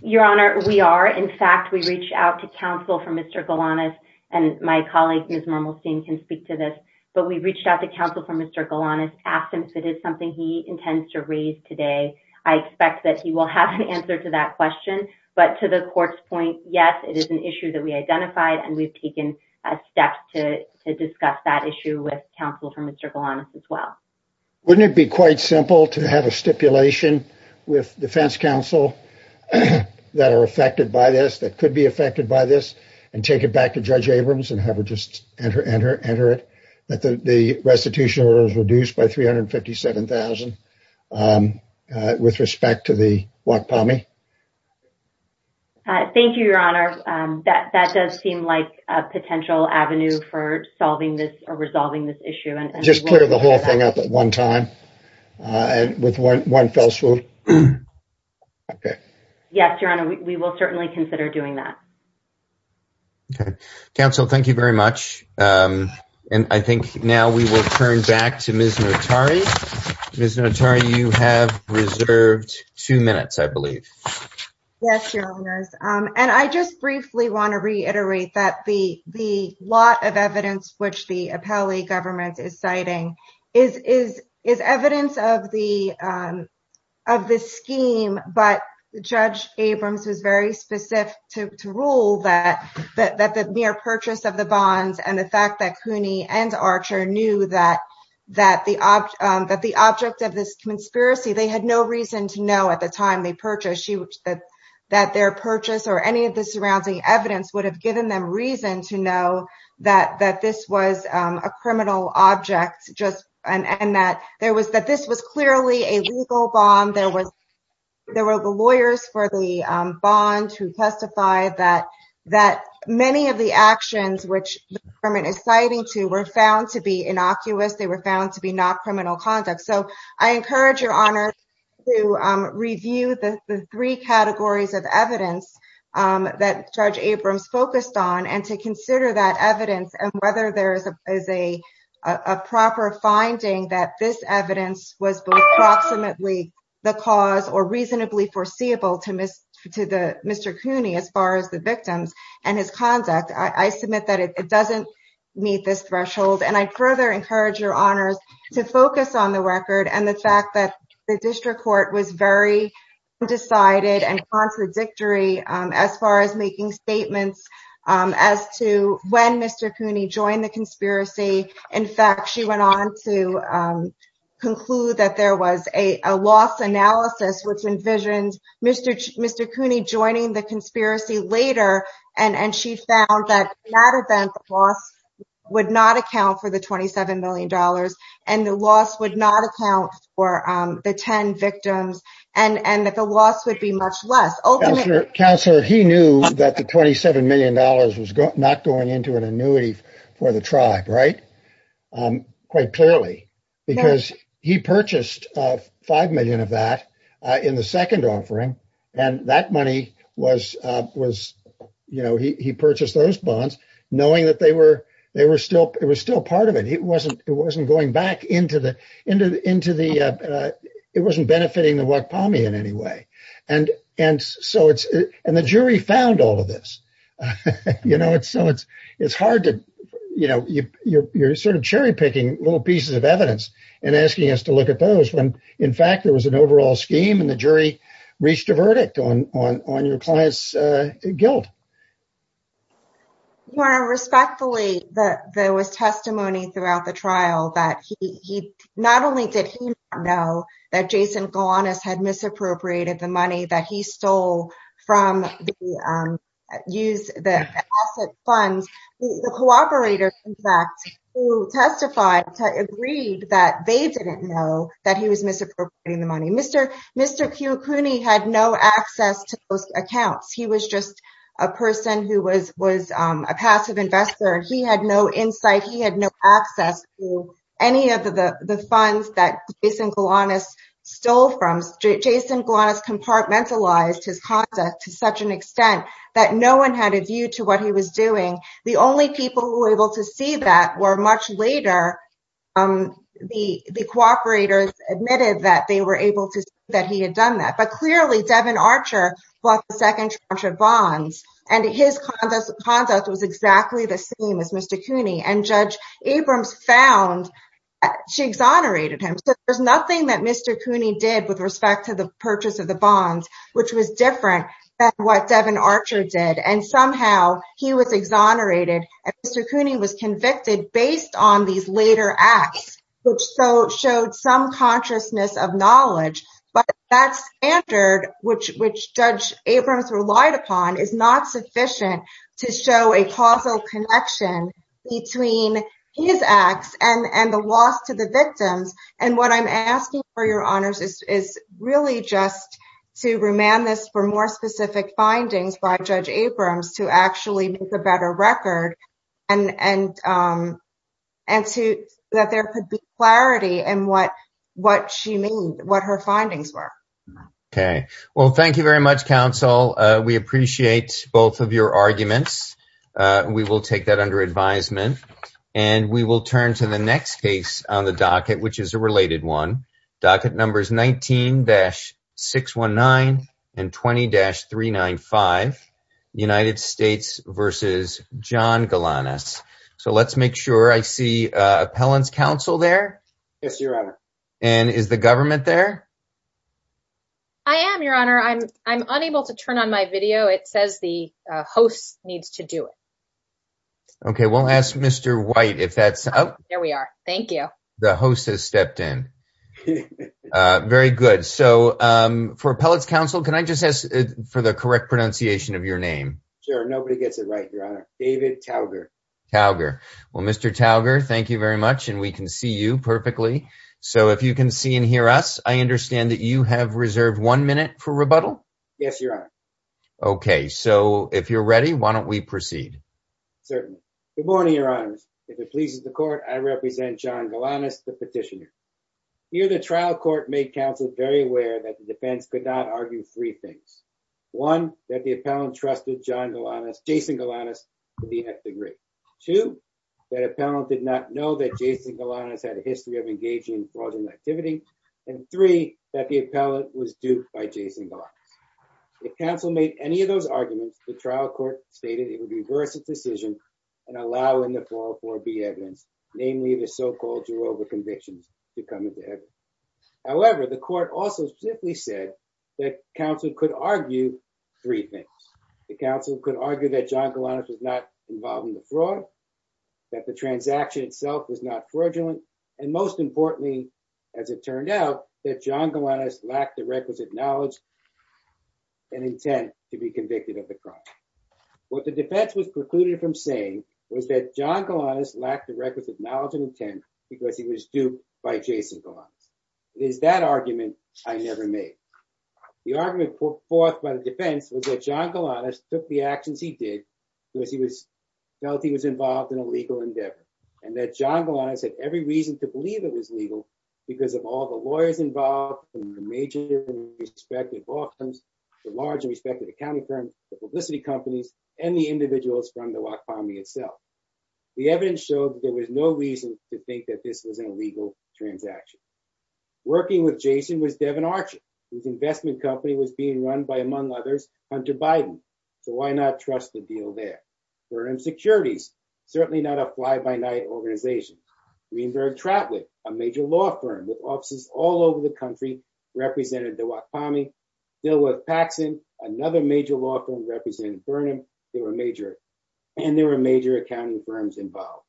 Your Honor, we are. In fact, we reached out to counsel from Mr. Galanis, and my colleague Ms. Normalstein can speak to this. But we reached out to counsel from Mr. Galanis, asked him if it is something he intends to raise today. I expect that he will have an answer to that question. But to the court's point, yes, it is an issue that we identified, and we've taken steps to discuss that issue with counsel from Mr. Galanis as well. Wouldn't it be quite simple to have a stipulation with defense counsel that are affected by this, that could be affected by this, and take it back to Judge Abrams and have her just enter it, that the restitution is reduced by $357,000 with respect to the WAP POMI? Thank you, Your Honor. That does seem like a potential avenue for solving this or resolving this issue. Just clear the whole thing up at one time with one fell swoop. Okay. Yes, Your Honor, we will certainly consider doing that. Okay. Counsel, thank you very much. And I think now we will turn back to Ms. Notari. Ms. Notari, you have reserved two minutes, I believe. Yes, Your Honor. And I just briefly want to reiterate that the lot of evidence which the But Judge Abrams is very specific to rule that the mere purchase of the bonds and the fact that Cooney and Archer knew that the object of this conspiracy, they had no reason to know at the time they purchased that their purchase or any of the surrounding evidence would have given them reason to know that this was a criminal object and that this was clearly a legal bond. There were the lawyers for the bonds who testified that many of the actions which the government is citing to were found to be innocuous. They were found to be not criminal conduct. So I encourage Your Honor to review the three categories of evidence that Judge Abrams focused on and to consider that evidence and whether there is a proper finding that this evidence was approximately the cause or reasonably foreseeable to Mr. Cooney as far as the victim and his conduct. I submit that it doesn't meet this threshold. And I further encourage Your Honor to focus on the record and the fact that the district court was very undecided and contradictory as far as making statements as to when Mr. Cooney joined the conspiracy. In fact, she went on to conclude that there was a loss analysis which envisioned Mr. Cooney joining the conspiracy later and she found that that event loss would not account for the $27 million and the loss would not account for the 10 victims and that the loss would be much less. Counselor, he knew that the $27 million was not going into an annuity for the tribe, right, quite clearly. Because he purchased $5 million of that in the second offering and that money was, you know, he purchased those bonds knowing that they were still part of it. It wasn't going back into the, it wasn't benefiting the Wampanoag in any way. And so it's, and the jury found all of this. You know, it's hard to, you know, you're sort of cherry picking little pieces of evidence and asking us to look at those when in fact there was an overall scheme and the jury reached a verdict on your client's guilt. Your Honor, respectfully, there was testimony throughout the trial that he, not only did he not know that Jason Galanis had misappropriated the money that he stole from the asset fund, the cooperator, in fact, who testified, agreed that they didn't know that he was misappropriating the money. Mr. Cuny had no access to those accounts. He was just a person who was a passive investor. He had no insight, he had no access to any of the funds that Jason Galanis stole from. Jason Galanis compartmentalized his conduct to such an extent that no one had a view to what he was doing. The only people who were able to see that were much later, the cooperators admitted that they were able to see that he had done that. But clearly Devin Archer was the second charge of bonds and his conduct was exactly the same as Mr. Cuny. And Judge Abrams found that she exonerated him. There's nothing that Mr. Cuny did with respect to the purchase of the bonds, which was different than what Devin Archer did. And somehow he was exonerated and Mr. Cuny was convicted based on these later acts, which showed some consciousness of knowledge. But that standard, which Judge Abrams relied upon, is not sufficient to show a causal connection between his acts and the loss to the victim. And what I'm asking for your honors is really just to remand this for more specific findings by Judge Abrams to actually make a better record and that there could be clarity in what she means, what her findings were. Okay. Well, thank you very much, counsel. We appreciate both of your arguments. We will take that under advisement. And we will turn to the next case on the docket, which is a related one. Docket numbers 19-619 and 20-395, United States v. John Galanis. So let's make sure I see appellant counsel there. Yes, your honor. And is the government there? I am, your honor. I'm unable to turn on my video. It says the host needs to do it. Okay. We'll ask Mr. White if that's up. There we are. Thank you. The host has stepped in. Very good. So for appellate counsel, can I just ask for the correct pronunciation of your name? Sure. Nobody gets it right, your honor. David Tauger. Tauger. Well, Mr. Tauger, thank you very much. And we can see you perfectly. So if you can see and hear us, I understand that you have reserved one minute for rebuttal? Yes, your honor. Okay. So if you're ready, why don't we proceed? Certainly. Good morning, your honor. If it pleases the court, I represent John Galanis, the petitioner. Here the trial court made counsel very aware that the defense could not argue three things. One, that the appellant trusted John Galanis, Jason Galanis, to be his degree. Two, that appellant did not know that Jason Galanis had a history of engaging in fraudulent activities. And three, that the appellant was duped by Jason Galanis. If counsel made any of those arguments, the trial court stated it would be worth a decision and allow him to fall for a B evidence, namely the so-called Jehovah conviction to come into evidence. However, the court also simply said that counsel could argue three things. The counsel could argue that John Galanis was not involved in the fraud, that the transaction itself was not fraudulent, and most importantly, as it turned out, that John Galanis lacked the requisite knowledge and intent to be convicted of the crime. What the defense was precluded from saying was that John Galanis lacked the requisite knowledge and intent because he was duped by Jason Galanis. It is that argument I never made. The argument put forth by the defense was that John Galanis took the actions he did because he felt he was involved in a legal endeavor and that John Galanis had every reason to believe it was legal because of all the lawyers involved and the major respective law firms, the large respective accounting firms, the publicity companies, and the individuals from the Lafamme itself. The evidence shows there was no reason to think that this was an illegal transaction. Working with Jason was Devin Archer, whose investment company was being run by, among others, Hunter Biden. So why not trust the deal there? For insecurities, certainly not a fly-by-night organization. Greenberg Trapwood, a major law firm with offices all over the country, represented the Lafamme. Stillworth Paxson, another major law firm representing Vernon. They were major accounting firms involved.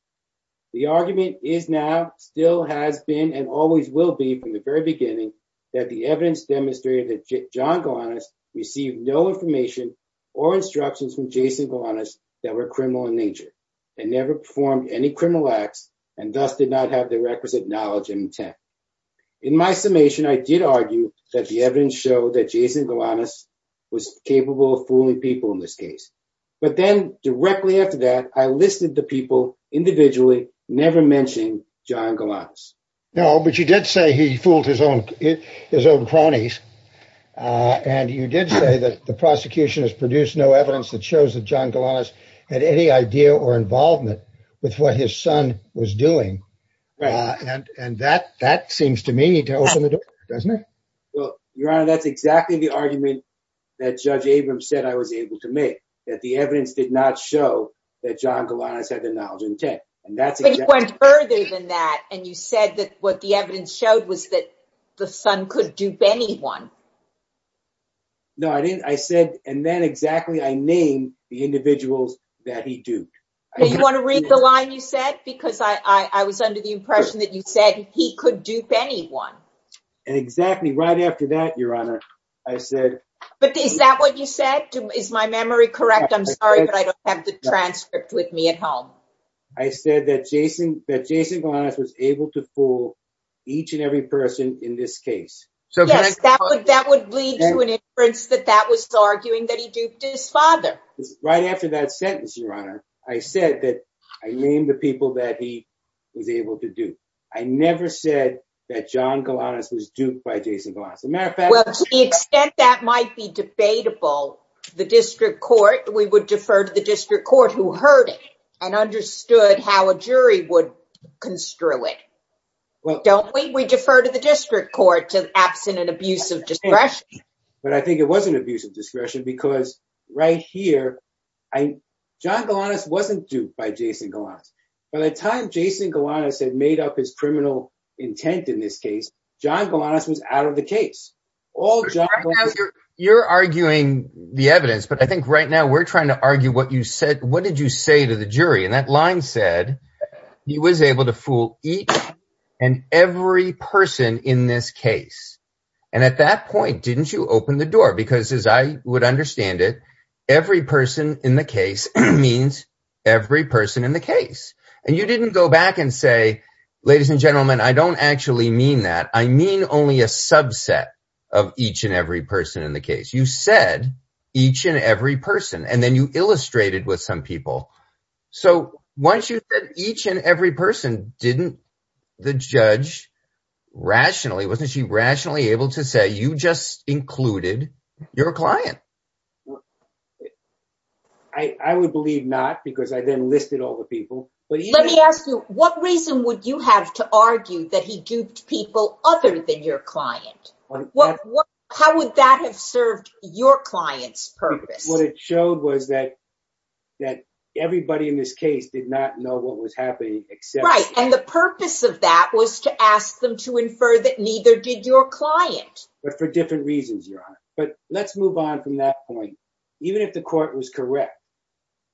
The argument is now, still has been, and always will be from the very beginning that the evidence demonstrated that John Galanis received no information or instructions from Jason Galanis that were criminal in nature. They never performed any criminal acts and thus did not have the requisite knowledge and intent. In my summation, I did argue that the evidence showed that Jason Galanis was capable of fooling people in this case. But then, directly after that, I listed the people individually, never mentioning John Galanis. No, but you did say he fools his own cronies, and you did say that the prosecution has produced no evidence that shows that John Galanis had any idea or involvement with what his son was doing. And that seems to me to open the door, doesn't it? Well, Your Honor, that's exactly the argument that Judge Abrams said I was able to make, that the evidence did not show that John Galanis had the knowledge and intent. But you went further than that, and you said that what the evidence showed was that the son could dupe anyone. No, I didn't. I said... And then exactly I named the individuals that he duped. Do you want to read the line you said? Because I was under the impression that you said he could dupe anyone. And exactly right after that, Your Honor, I said... But is that what you said? Is my memory correct? I'm sorry, but I don't have the transcript with me at home. I said that Jason Galanis was able to fool each and every person in this case. Yes, that would lead to an inference that that was arguing that he duped his father. Right after that sentence, Your Honor, I said that I named the people that he was able to dupe. I never said that John Galanis was duped by Jason Galanis. As a matter of fact... Well, to the extent that might be debatable, the district court, we would defer to the district court who heard it and understood how a jury would construe it. Don't we? We defer to the district court to abstinent abuse of discretion. But I think it wasn't abuse of discretion because right here, John Galanis wasn't duped by Jason Galanis. By the time Jason Galanis had made up his criminal intent in this case, John Galanis was out of the case. You're arguing the evidence, but I think right now we're trying to argue what you said. What did you say to the jury? And that line said he was able to fool each and every person in this case. And at that point, didn't you open the door? Because as I would understand it, every person in the case means every person in the case. And you didn't go back and say, ladies and gentlemen, I don't actually mean that. I mean only a subset of each and every person in the case. You said each and every person, and then you illustrated with some people. So once you said each and every person, didn't the judge rationally, wasn't she rationally able to say you just included your client? I would believe not because I then listed all the people. Let me ask you, what reason would you have to argue that he duped people other than your client? How would that have served your client's purpose? What it showed was that everybody in this case did not know what was happening. Right. And the purpose of that was to ask them to infer that neither did your client. But for different reasons, Your Honor. But let's move on from that point. Even if the court was correct,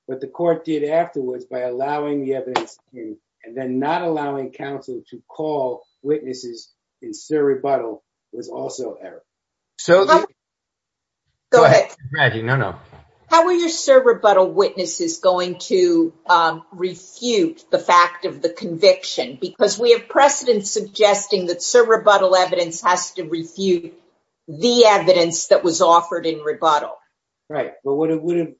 what the court did afterwards by allowing the evidence, and then not allowing counsel to call witnesses in surrebuttal was also error. Go ahead. Maggie, no, no. How were your surrebuttal witnesses going to refute the fact of the conviction? Because we have precedent suggesting that surrebuttal evidence has to refute the evidence that was offered in rebuttal. Right. But what the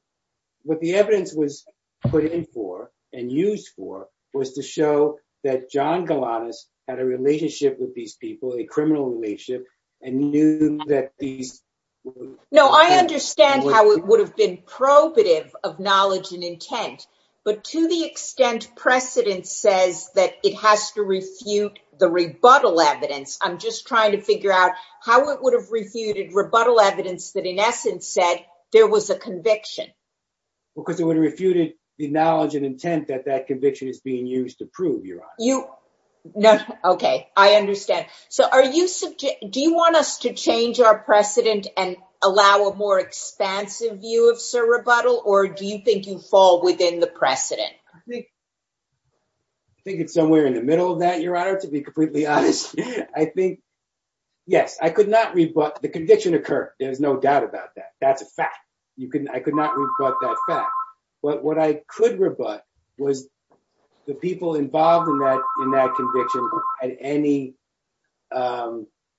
evidence was put in for and used for was to show that John Galatas had a relationship with these people, a criminal relationship, No, I understand how it would have been probative of knowledge and intent. But to the extent precedent says that it has to refute the rebuttal evidence, I'm just trying to figure out how it would have refuted rebuttal evidence that in essence said there was a conviction. Because it would have refuted the knowledge and intent that that conviction is being used to prove, Your Honor. Okay. I understand. So do you want us to change our precedent and allow a more expansive view of surrebuttal, or do you think you fall within the precedent? I think it's somewhere in the middle of that, Your Honor, to be completely honest. I think, yes, I could not rebut. The conviction occurred. There's no doubt about that. That's a fact. I could not rebut that fact. But what I could rebut was the people involved in that conviction and any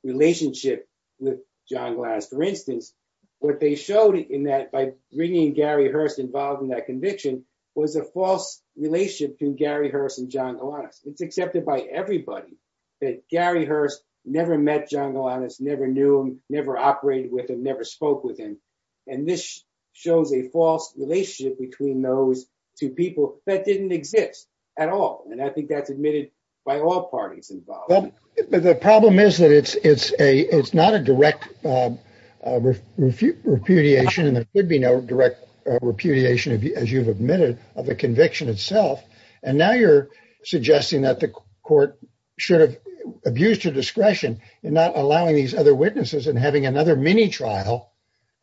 relationship with John Galatas. For instance, what they showed in that by bringing Gary Hurst involved in that conviction was a false relationship between Gary Hurst and John Galatas. It's accepted by everybody that Gary Hurst never met John Galatas, never knew him, never operated with him, never spoke with him. And this shows a false relationship between those two people that didn't exist at all. And I think that's admitted by all parties involved. But the problem is that it's not a direct repudiation, and there should be no direct repudiation, as you've admitted, of the conviction itself. And now you're suggesting that the court should have abused your discretion in not allowing these other witnesses and having another mini-trial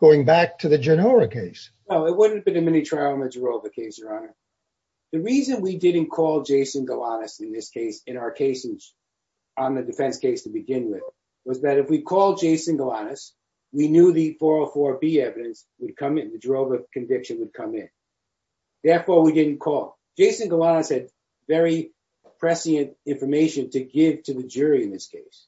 going back to the Genora case. No, it wouldn't have been a mini-trial in the Girova case, Your Honor. The reason we didn't call Jason Galatas in our cases on the defense case to begin with was that if we called Jason Galatas, we knew the 404B evidence would come in, the Girova conviction would come in. Therefore, we didn't call. Jason Galatas had very prescient information to give to the jury in this case.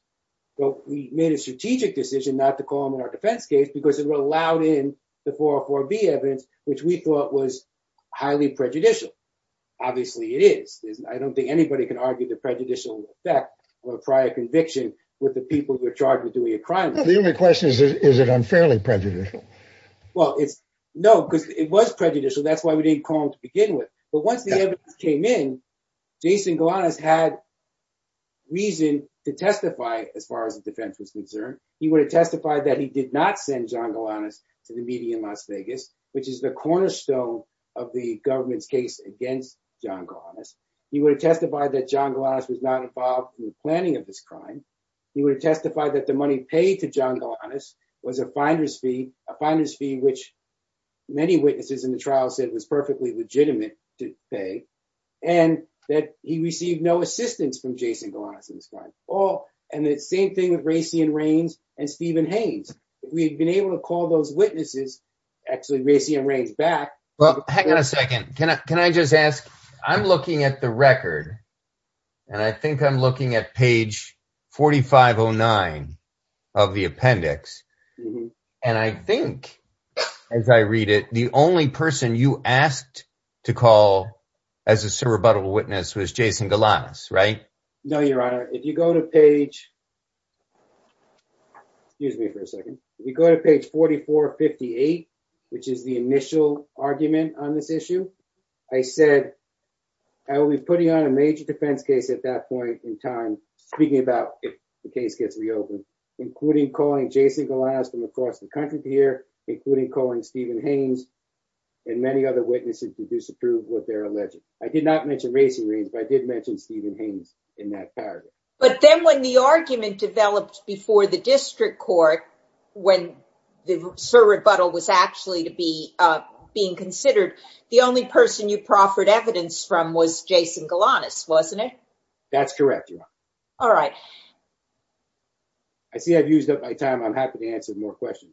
So we made a strategic decision not to call him in our defense case because it allowed in the 404B evidence, which we thought was highly prejudicial. Obviously, it is. I don't think anybody can argue the prejudicial effect of a prior conviction with the people you're charged with doing a crime. The only question is, is it unfairly prejudicial? Well, no, because it was prejudicial. That's why we didn't call him to begin with. But once the evidence came in, Jason Galatas had reason to testify as far as the defense was concerned. He would have testified that he did not send John Galatas to the meeting in Las Vegas, which is the cornerstone of the government case against John Galatas. He would have testified that John Galatas was not involved in the planning of this crime. He would have testified that the money paid to John Galatas was a finder's fee, a finder's fee which many witnesses in the trial said was perfectly legitimate to pay. And that he received no assistance from Jason Galatas in this crime. And the same thing with Raytheon Raines and Stephen Haynes. If we had been able to call those witnesses, actually Raytheon Raines back. Well, hang on a second. Can I just ask, I'm looking at the record, and I think I'm looking at page 4509 of the appendix. And I think, as I read it, the only person you asked to call as a cerebuttal witness was Jason Galatas, right? No, Your Honor. If you go to page, excuse me for a second. If you go to page 4458, which is the initial argument on this issue. I said, I will be putting on a major defense case at that point in time, speaking about if the case gets reopened. Including calling Jason Galatas from across the country here. Including calling Stephen Haynes and many other witnesses who disapprove what they're alleging. I did not mention Raytheon Raines, but I did mention Stephen Haynes in that paragraph. But then when the argument developed before the district court, when the cerebuttal was actually being considered. The only person you proffered evidence from was Jason Galatas, wasn't it? That's correct, Your Honor. All right. I see I've used up my time. I'm happy to answer more questions.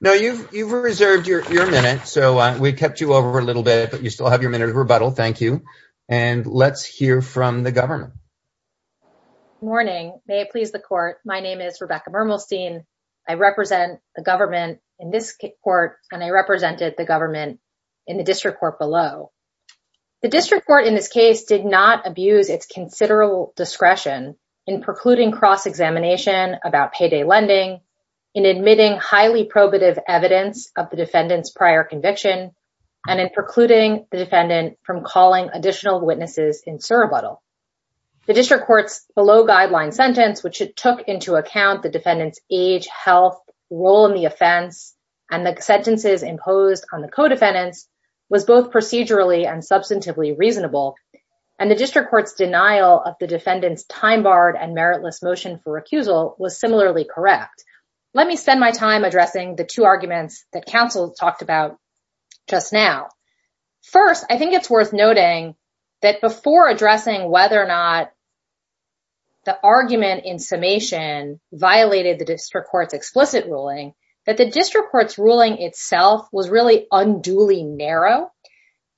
Now, you've reserved your minute, so we kept you over a little bit, but you still have your minute of rebuttal. Thank you. And let's hear from the government. Good morning. May it please the court. My name is Rebecca Bermelstein. I represent the government in this court, and I represented the government in the district court below. The district court in this case did not abuse its considerable discretion in precluding cross-examination about payday lending. In admitting highly probative evidence of the defendant's prior conviction. And in precluding the defendant from calling additional witnesses in cerebuttal. The district court's below guideline sentence, which it took into account the defendant's age, health, role in the offense. And the sentences imposed on the co-defendants was both procedurally and substantively reasonable. And the district court's denial of the defendant's time barred and meritless motion for recusal was similarly correct. Let me spend my time addressing the two arguments that counsel talked about just now. First, I think it's worth noting that before addressing whether or not the argument in summation violated the district court's explicit ruling. That the district court's ruling itself was really unduly narrow.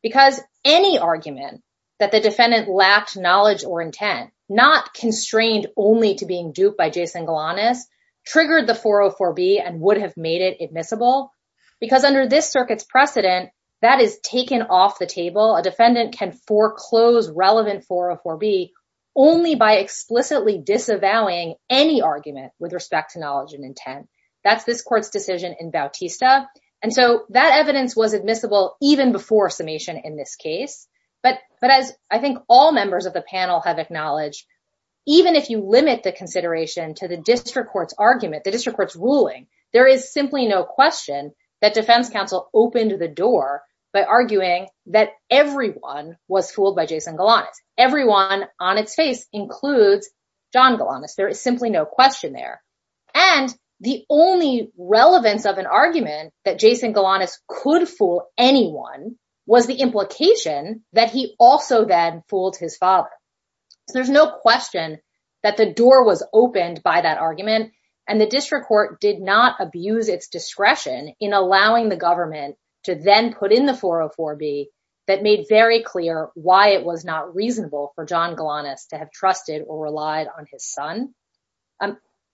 Because any argument that the defendant lacked knowledge or intent, not constrained only to being duped by Jason Galanis, triggered the 404B and would have made it admissible. Because under this circuit's precedent, that is taken off the table. A defendant can foreclose relevant 404B only by explicitly disavowing any argument with respect to knowledge and intent. That's this court's decision in Bautista. And so that evidence was admissible even before summation in this case. But I think all members of the panel have acknowledged, even if you limit the consideration to the district court's argument, the district court's ruling. There is simply no question that defense counsel opened the door by arguing that everyone was fooled by Jason Galanis. Everyone on its face includes John Galanis. There is simply no question there. And the only relevance of an argument that Jason Galanis could fool anyone was the implication that he also then fooled his father. There's no question that the door was opened by that argument. And the district court did not abuse its discretion in allowing the government to then put in the 404B that made very clear why it was not reasonable for John Galanis to have trusted or relied on his son.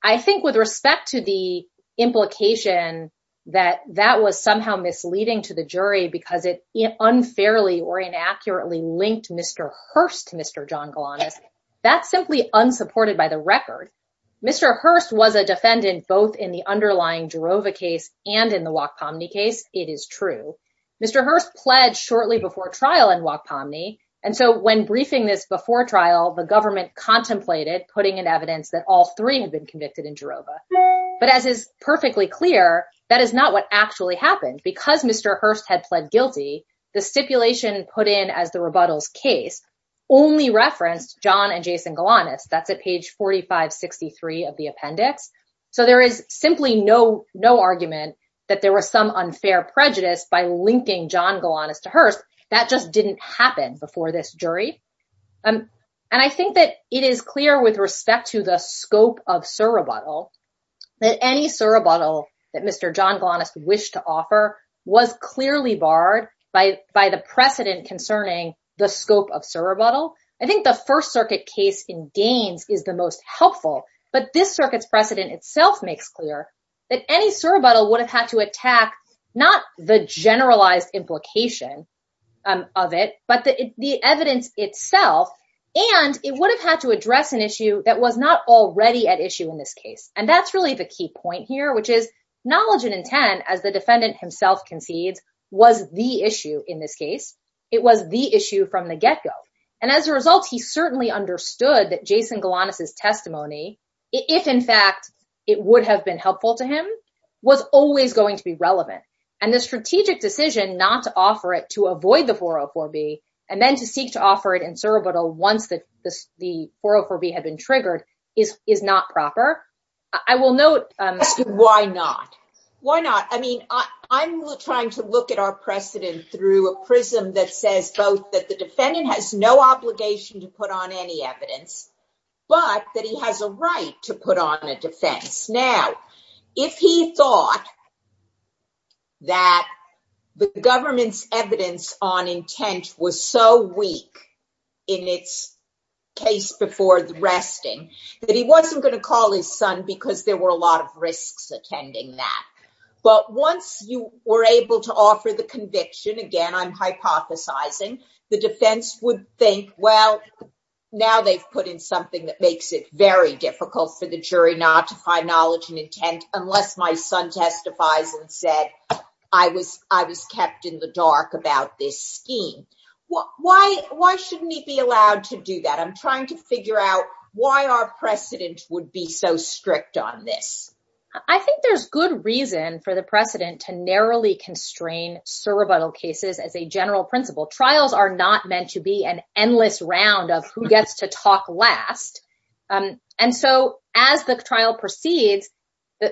I think with respect to the implication that that was somehow misleading to the jury because it unfairly or inaccurately linked Mr. Hurst to Mr. John Galanis, that's simply unsupported by the record. Mr. Hurst was a defendant both in the underlying Jerova case and in the Wacht-Pomny case. It is true. Mr. Hurst pledged shortly before trial in Wacht-Pomny. And so when briefing this before trial, the government contemplated putting in evidence that all three had been convicted in Jerova. But as is perfectly clear, that is not what actually happened. Because Mr. Hurst had pled guilty, the stipulation put in as the rebuttals case only referenced John and Jason Galanis. That's at page 4563 of the appendix. So there is simply no argument that there were some unfair prejudice by linking John Galanis to Hurst. That just didn't happen before this jury. And I think that it is clear with respect to the scope of surrebuttal that any surrebuttal that Mr. John Galanis wished to offer was clearly barred by the precedent concerning the scope of surrebuttal. I think the First Circuit case in Gaines is the most helpful. But this circuit's precedent itself makes clear that any surrebuttal would have had to attack not the generalized implication of it, but the evidence itself. And it would have had to address an issue that was not already at issue in this case. And that's really the key point here, which is knowledge and intent, as the defendant himself concedes, was the issue in this case. It was the issue from the get-go. And as a result, he certainly understood that Jason Galanis' testimony, if in fact it would have been helpful to him, was always going to be relevant. And the strategic decision not to offer it to avoid the 404B and then to seek to offer it in surrebuttal once the 404B had been triggered is not proper. I will note... Why not? Why not? I mean, I'm trying to look at our precedent through a prism that says both that the defendant has no obligation to put on any evidence, but that he has a right to put on a defense. Now, if he thought that the government's evidence on intent was so weak in its case before the resting, that he wasn't going to call his son because there were a lot of risks attending that. But once you were able to offer the conviction, again, I'm hypothesizing, the defense would think, well, now they've put in something that makes it very difficult for the jury not to find knowledge and intent unless my son testified and said I was kept in the dark about this scheme. Why shouldn't he be allowed to do that? I'm trying to figure out why our precedent would be so strict on this. I think there's good reason for the precedent to narrowly constrain surrebuttal cases as a general principle. Trials are not meant to be an endless round of who gets to talk last. And so as the trial proceeds,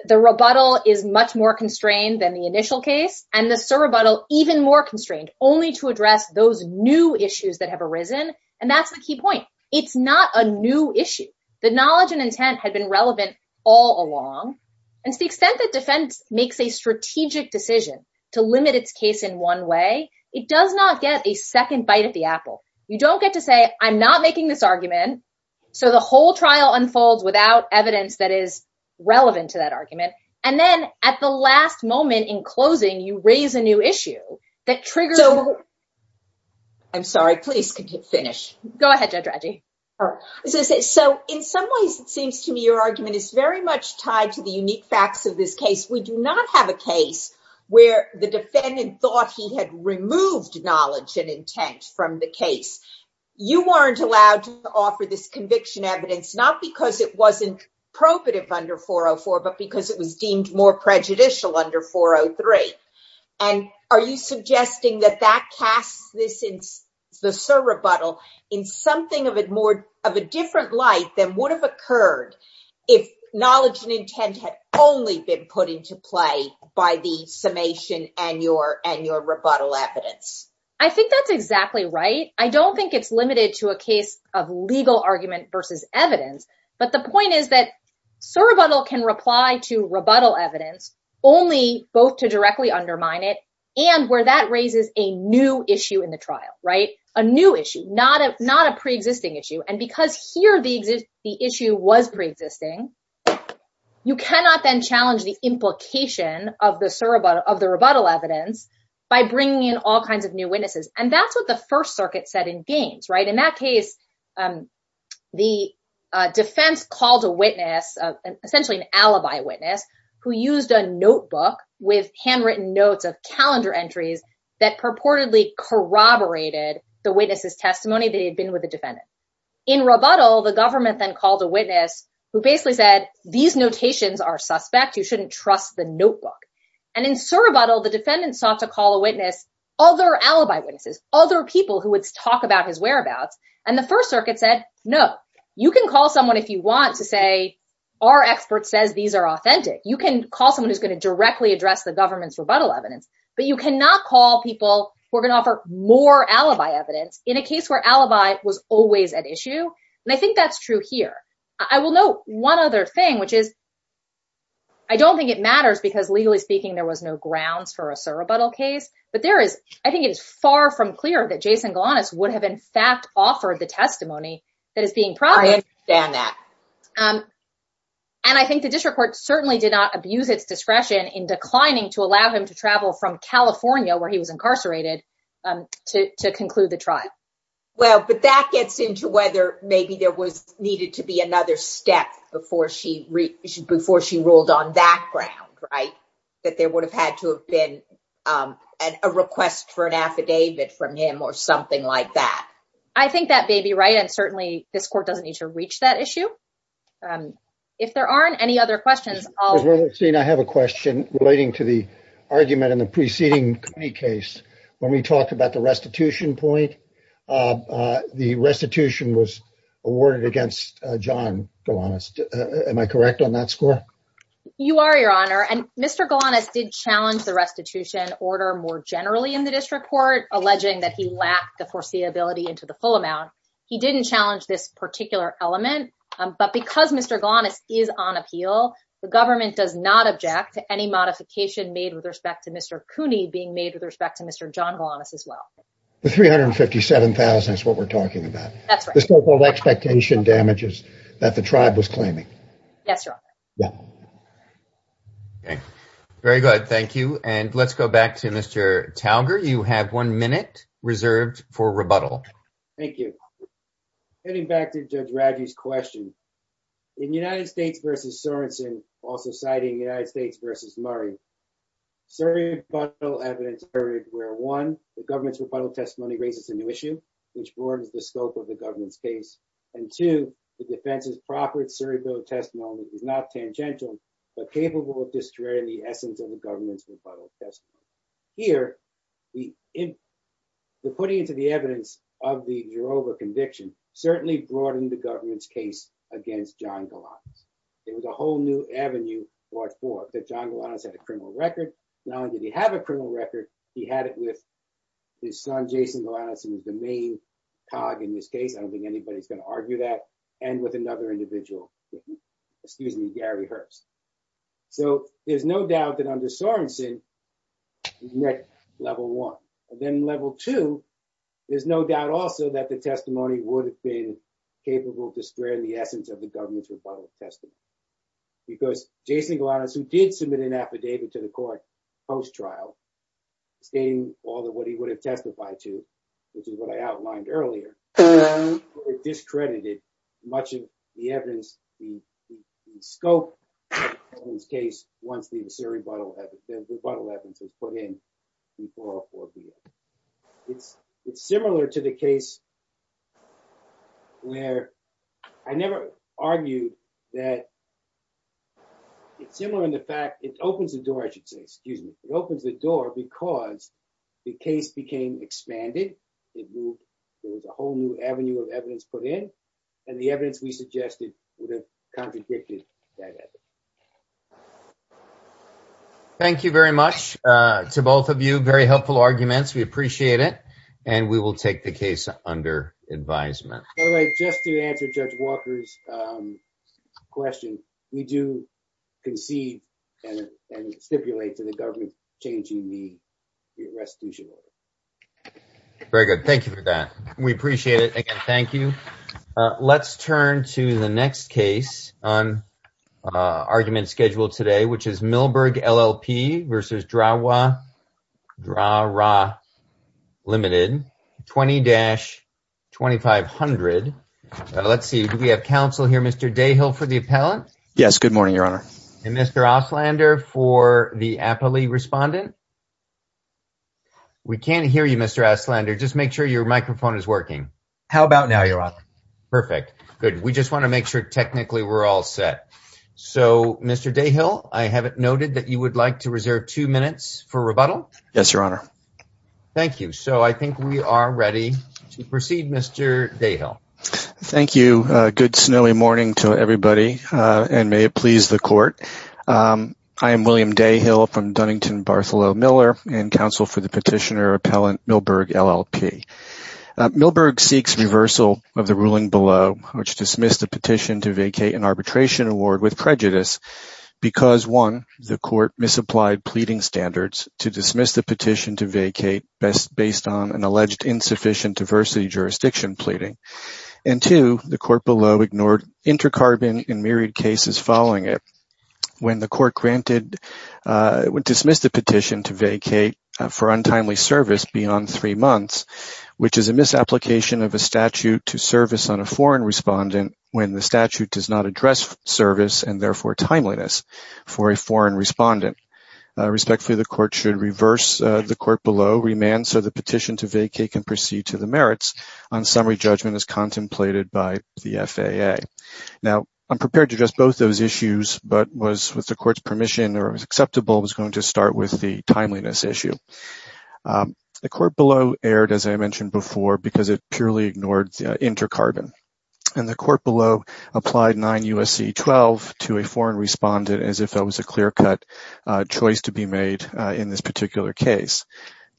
the rebuttal is much more constrained than the initial case, and the surrebuttal even more constrained, only to address those new issues that have arisen. And that's the key point. It's not a new issue. The knowledge and intent had been relevant all along. And to the extent that defense makes a strategic decision to limit its case in one way, it does not get a second bite at the apple. You don't get to say, I'm not making this argument. So the whole trial unfolds without evidence that is relevant to that argument. And then at the last moment in closing, you raise a new issue that triggers over. I'm sorry. Please finish. Go ahead. So in some ways, it seems to me your argument is very much tied to the unique facts of this case. We do not have a case where the defendant thought he had removed knowledge and intent from the case. You weren't allowed to offer this conviction evidence, not because it wasn't probative under 404, but because it was deemed more prejudicial under 403. And are you suggesting that that casts the surrebuttal in something of a different light than would have occurred if knowledge and intent had only been put into play by the summation and your rebuttal evidence? I think that's exactly right. I don't think it's limited to a case of legal argument versus evidence. But the point is that surrebuttal can reply to rebuttal evidence only both to directly undermine it and where that raises a new issue in the trial, right? A new issue, not a preexisting issue. And because here the issue was preexisting, you cannot then challenge the implication of the rebuttal evidence by bringing in all kinds of new witnesses. And that's what the First Circuit said in Gaines, right? In that case, the defense called a witness, essentially an alibi witness, who used a notebook with handwritten notes of calendar entries that purportedly corroborated the witness's testimony. They had been with the defendant. In rebuttal, the government then called a witness who basically said, these notations are suspect. You shouldn't trust the notebook. And in surrebuttal, the defendant sought to call a witness, other alibi witnesses, other people who would talk about his whereabouts. And the First Circuit said, no, you can call someone if you want to say, our expert says these are authentic. You can call someone who's going to directly address the government's rebuttal evidence. But you cannot call people who are going to offer more alibi evidence in a case where alibi was always an issue. And I think that's true here. I will note one other thing, which is I don't think it matters because, legally speaking, there was no grounds for a surrebuttal case. But I think it is far from clear that Jason Galanis would have, in fact, offered the testimony that is being provided. I understand that. And I think the district court certainly did not abuse its discretion in declining to allow him to travel from California, where he was incarcerated, to conclude the trial. Well, but that gets into whether maybe there was needed to be another step before she ruled on that ground, right? That there would have had to have been a request for an affidavit from him or something like that. I think that may be right. And certainly, this court doesn't need to reach that issue. If there aren't any other questions. I have a question relating to the argument in the preceding case. When we talked about the restitution point, the restitution was awarded against John Galanis. Am I correct on that score? You are, Your Honor. And Mr. Galanis did challenge the restitution order more generally in the district court, alleging that he lacked the foreseeability into the full amount. He didn't challenge this particular element. But because Mr. Galanis is on appeal, the government does not object to any modification made with respect to Mr. Cooney being made with respect to Mr. John Galanis as well. The $357,000 is what we're talking about. That's right. The so-called expectation damages that the tribe was claiming. That's right. Yeah. Okay. Very good. Thank you. And let's go back to Mr. Talbert. You have one minute reserved for rebuttal. Thank you. Getting back to Judge Radley's question. In United States v. Sorensen, also citing United States v. Murray, surreptitial evidence occurred where, one, the government's rebuttal testimony raises a new issue, which broadens the scope of the government's case. And, two, the defense's proper surreptitious testimony is not tangential but capable of destroying the essence of the government's rebuttal testimony. Here, we're putting it to the evidence of the Eurova conviction certainly broadened the government's case against John Galanis. It was a whole new avenue brought forth that John Galanis had a criminal record. Now that he had a criminal record, he had it with his son, Jason Galanis, who was the main cog in this case. I don't think anybody's going to argue that. And with another individual. Excuse me, Gary Hurst. So, there's no doubt that under Sorensen, we've met level one. And then level two, there's no doubt also that the testimony would have been capable of destroying the essence of the government's rebuttal testimony. Because Jason Galanis, who did submit an affidavit to the court post-trial stating all of what he would have testified to, which is what I outlined earlier, it discredited much of the evidence, the scope of the case once the rebuttal evidence was put in before a court hearing. It's similar to the case where, I never argued that, it's similar in the fact, it opens the door, I should say, excuse me, it opens the door because the case became expanded. There was a whole new avenue of evidence put in. And the evidence we suggested would have contradicted that evidence. Thank you very much to both of you. Very helpful arguments. We appreciate it. And we will take the case under advisement. Just to answer Judge Walker's question, we do concede and stipulate that the government's changing the restitution order. Very good. Thank you for that. We appreciate it. Again, thank you. Let's turn to the next case on argument schedule today, which is Milberg LLP versus Drahwa Limited, 20-2500. Let's see. We have counsel here. Mr. Dayhill for the appellant. Yes, good morning, Your Honor. And Mr. Ostlander for the appellee respondent. We can't hear you, Mr. Ostlander. Just make sure your microphone is working. How about now, Your Honor? Perfect. Good. We just want to make sure technically we're all set. So, Mr. Dayhill, I have it noted that you would like to reserve two minutes for rebuttal. Yes, Your Honor. Thank you. So, I think we are ready to proceed, Mr. Dayhill. Thank you. Good snowy morning to everybody. And may it please the court. I am William Dayhill from Dunnington Bartholomew Miller and counsel for the petitioner appellant Milberg LLP. Milberg seeks reversal of the ruling below, which dismissed the petition to vacate an arbitration award with prejudice, because, one, the court misapplied pleading standards to dismiss the petition to vacate based on an alleged insufficient diversity jurisdiction pleading. And, two, the court below ignored inter-carbon and myriad cases following it. When the court dismissed the petition to vacate for untimely service beyond three months, which is a misapplication of a statute to service on a foreign respondent when the statute does not address service and, therefore, timeliness for a foreign respondent. Respectfully, the court should reverse the court below remand so the petition to vacate can proceed to the merits on summary judgment as contemplated by the FAA. Now, I'm prepared to address both those issues, but was, with the court's permission or was acceptable, was going to start with the timeliness issue. The court below erred, as I mentioned before, because it purely ignored inter-carbon. And the court below applied 9 U.S.C.E. 12 to a foreign respondent as if that was a clear-cut choice to be made in this particular case.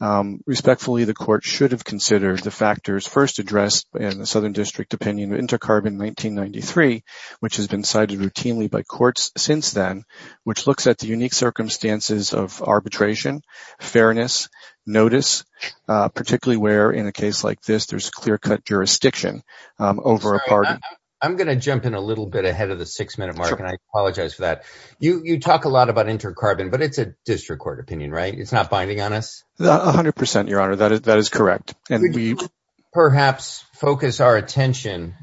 Respectfully, the court should have considered the factors first addressed in the Southern District opinion of inter-carbon 1993, which has been cited routinely by courts since then, which looks at the unique circumstances of arbitration, fairness, notice, particularly where, in a case like this, there's clear-cut jurisdiction over a pardon. I'm going to jump in a little bit ahead of the six-minute mark, and I apologize for that. You talk a lot about inter-carbon, but it's a district court opinion, right? It's not binding on us? A hundred percent, Your Honor. That is correct. Could you perhaps focus our attention,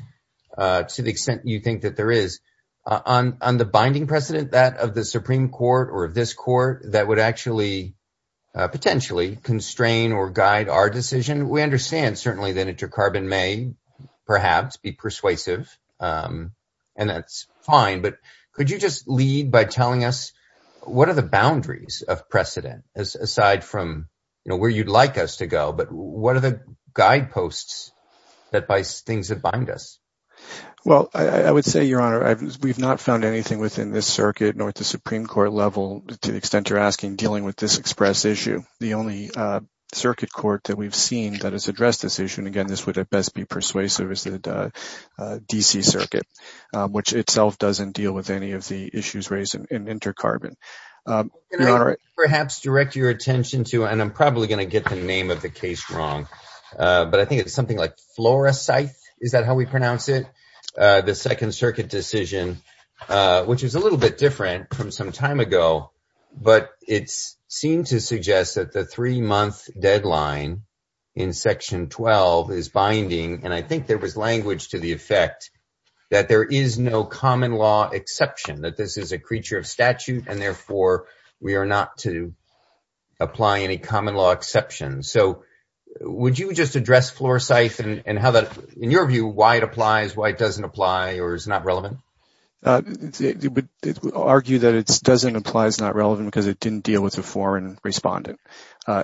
to the extent you think that there is, on the binding precedent, that of the Supreme Court or this court, that would actually potentially constrain or guide our decision? We understand, certainly, that inter-carbon may perhaps be persuasive, and that's fine. But could you just lead by telling us, what are the boundaries of precedent, aside from where you'd like us to go? What are the guideposts that, by things that bind us? Well, I would say, Your Honor, we've not found anything within this circuit, nor at the Supreme Court level, to the extent you're asking, dealing with this expressed issue. The only circuit court that we've seen that has addressed this issue, and again, this would at best be persuasive, is the D.C. Circuit, which itself doesn't deal with any of the issues raised in inter-carbon. Can I perhaps direct your attention to, and I'm probably going to get the name of the case wrong, but I think it's something like Flores-site, is that how we pronounce it? The Second Circuit decision, which is a little bit different from some time ago, but it seemed to suggest that the three-month deadline in Section 12 is binding, and I think there was language to the effect that there is no common law exception, that this is a creature of statute, and therefore, we are not to apply any common law exceptions. So would you just address Flores-site and how that, in your view, why it applies, why it doesn't apply, or is it not relevant? I would argue that it doesn't apply, it's not relevant, because it didn't deal with a foreign respondent.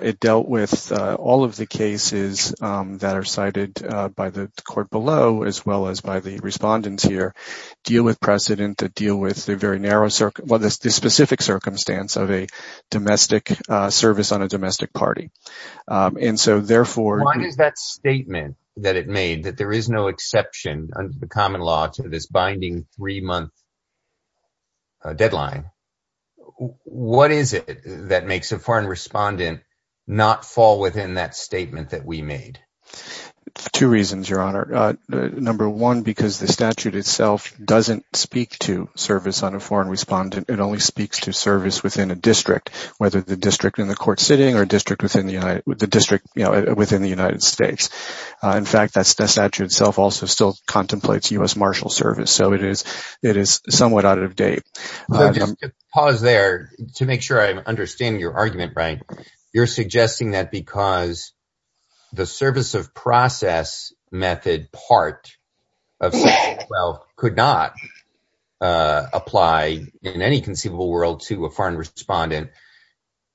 It dealt with all of the cases that are cited by the court below, as well as by the respondents here, deal with precedent, that deal with the specific circumstance of a domestic service on a domestic party. Why does that statement that it made, that there is no exception under the common law to this binding three-month deadline, what is it that makes a foreign respondent not fall within that statement that we made? Two reasons, Your Honor. Number one, because the statute itself doesn't speak to service on a foreign respondent, it only speaks to service within a district, whether the district in the court sitting or a district within the United States. In fact, that statute itself also still contemplates U.S. marshal service, so it is somewhat out of date. Pause there to make sure I understand your argument, Brian. You're suggesting that because the service of process method part of Section 12 could not apply in any conceivable world to a foreign respondent,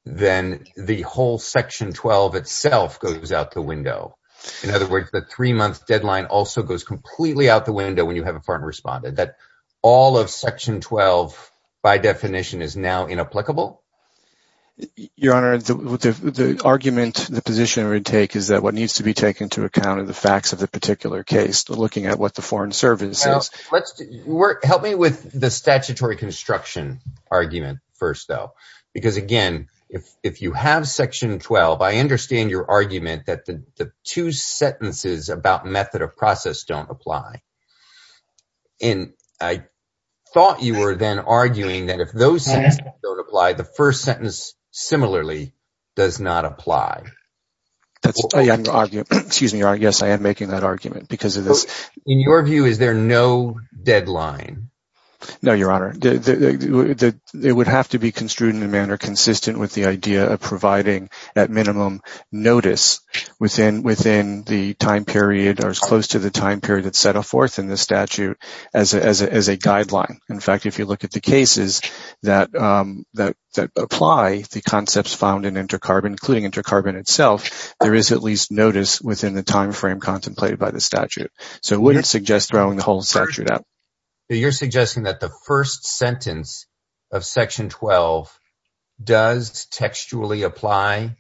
then the whole Section 12 itself goes out the window. In other words, the three-month deadline also goes completely out the window when you have a foreign respondent. That all of Section 12, by definition, is now inapplicable? Your Honor, the argument, the position we take is that what needs to be taken into account in the facts of a particular case, looking at what the foreign service says. Help me with the statutory construction argument first, though. Because, again, if you have Section 12, I understand your argument that the two sentences about method of process don't apply. And I thought you were then arguing that if those sentences don't apply, the first sentence similarly does not apply. Excuse me, Your Honor. Yes, I am making that argument because of this. In your view, is there no deadline? No, Your Honor. It would have to be construed in a manner consistent with the idea of providing, at minimum, notice within the time period or as close to the time period that's set aforth in the statute as a guideline. In fact, if you look at the cases that apply, the concepts found in inter-carbon, including inter-carbon itself, there is at least notice within the time frame contemplated by the statute. So I wouldn't suggest throwing the whole statute out. So you're suggesting that the first sentence of Section 12 does textually apply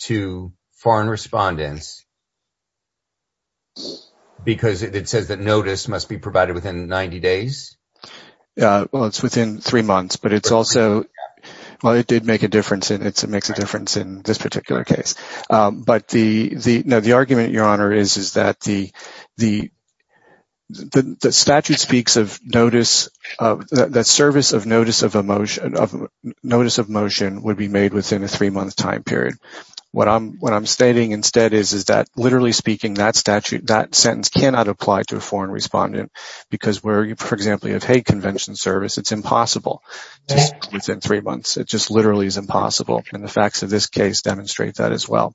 to foreign respondents because it says that notice must be provided within 90 days? Well, it's within three months. But it's also – well, it did make a difference, and it makes a difference in this particular case. No, the argument, Your Honor, is that the statute speaks of notice – that service of notice of motion would be made within a three-month time period. What I'm stating instead is that, literally speaking, that sentence cannot apply to a foreign respondent because where, for example, you have hate convention service, it's impossible within three months. It just literally is impossible. And the facts of this case demonstrate that as well.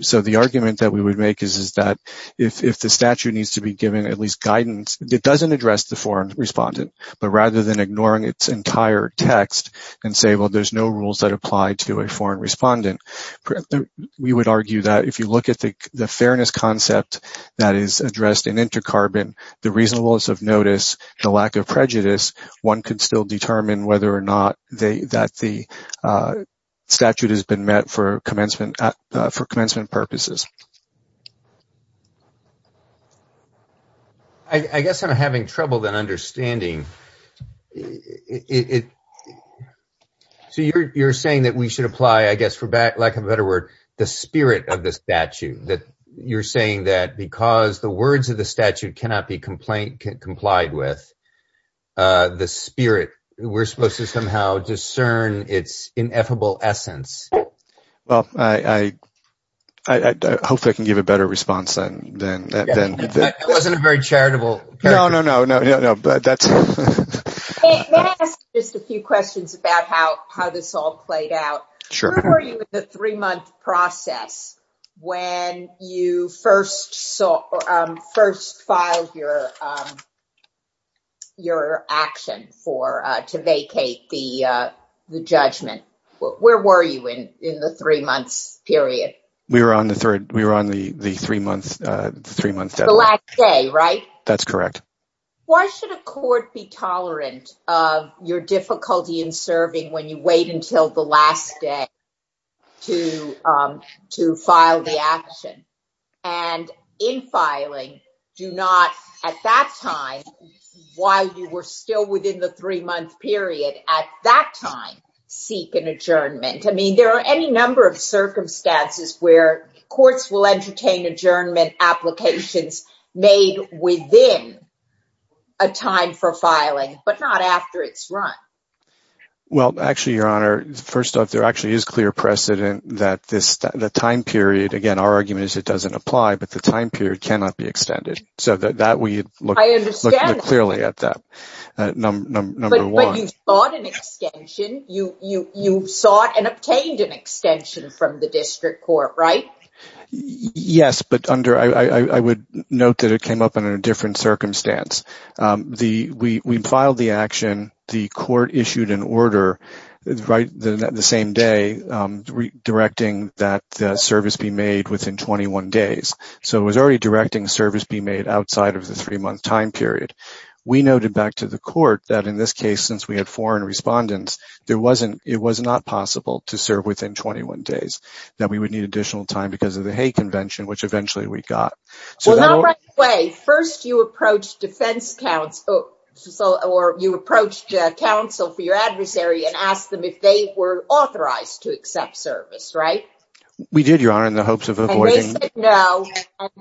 So the argument that we would make is that if the statute needs to be given at least guidance, it doesn't address the foreign respondent. But rather than ignoring its entire text and say, well, there's no rules that apply to a foreign respondent, we would argue that if you look at the fairness concept that is addressed in inter-carbon, the reasonableness of notice and lack of prejudice, one could still determine whether or not that the statute has been met for commencement purposes. I guess I'm having trouble understanding. So you're saying that we should apply, I guess, for lack of a better word, the spirit of the statute. You're saying that because the words of the statute cannot be complied with, the spirit, we're supposed to somehow discern its ineffable essence. Well, I hope I can give a better response than that. It wasn't a very charitable. No, no, no. May I ask just a few questions about how this all played out? Sure. Where were you in the three-month process when you first filed your action to vacate the judgment? Where were you in the three-month period? We were on the three-month deadline. The last day, right? That's correct. Why should a court be tolerant of your difficulty in serving when you wait until the last day to file the action? And in filing, do not, at that time, while you were still within the three-month period, at that time, seek an adjournment. I mean, there are any number of circumstances where courts will entertain adjournment applications made within a time for filing, but not after it's run. Well, actually, Your Honor, first off, there actually is clear precedent that the time period, again, our argument is it doesn't apply, but the time period cannot be extended. So that we look clearly at that, number one. But you sought an extension. You sought and obtained an extension from the district court, right? Yes, but I would note that it came up under a different circumstance. We filed the action. The court issued an order the same day directing that service be made within 21 days. So it was already directing service be made outside of the three-month time period. We noted back to the court that in this case, since we had foreign respondents, it was not possible to serve within 21 days. That we would need additional time because of the hate convention, which eventually we got. Well, not right away. First, you approached defense counsel or you approached counsel for your adversary and asked them if they were authorized to accept service, right? We did, Your Honor, in the hopes of avoiding... And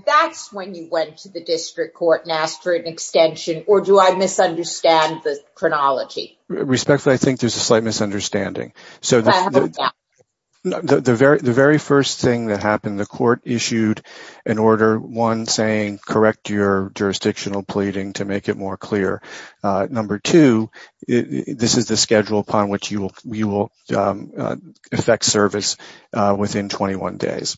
that's when you went to the district court and asked for an extension, or do I misunderstand the chronology? Respectfully, I think there's a slight misunderstanding. So the very first thing that happened, the court issued an order, one, saying correct your jurisdictional pleading to make it more clear. Number two, this is the schedule upon which you will effect service within 21 days.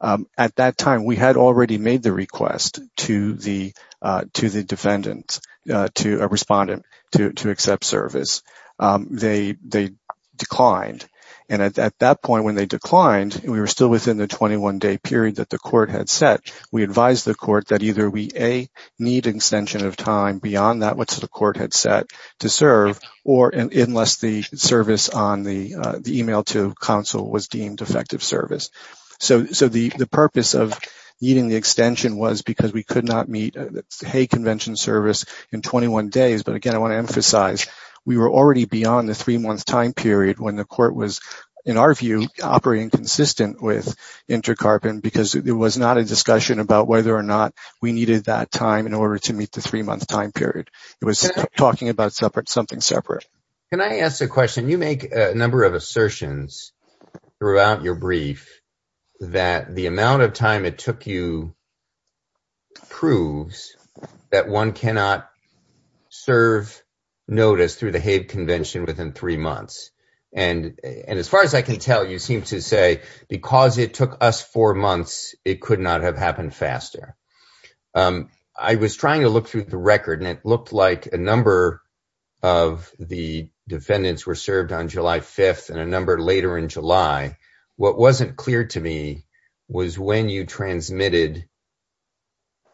At that time, we had already made the request to the defendant, to a respondent, to accept service. They declined. And at that point when they declined, we were still within the 21-day period that the court had set. We advised the court that either we, A, need an extension of time beyond that which the court had set to serve, or unless the service on the email to counsel was deemed effective service. So the purpose of needing the extension was because we could not meet the hate convention service in 21 days. But, again, I want to emphasize, we were already beyond the three-month time period when the court was, in our view, operating consistent with InterCarp and because there was not a discussion about whether or not we needed that time in order to meet the three-month time period. It was talking about something separate. Can I ask a question? You make a number of assertions throughout your brief that the amount of time it took you proves that one cannot serve notice through the hate convention within three months. And as far as I can tell, you seem to say because it took us four months, it could not have happened faster. I was trying to look through the record and it looked like a number of the defendants were served on July 5th and a number later in July. What wasn't clear to me was when you transmitted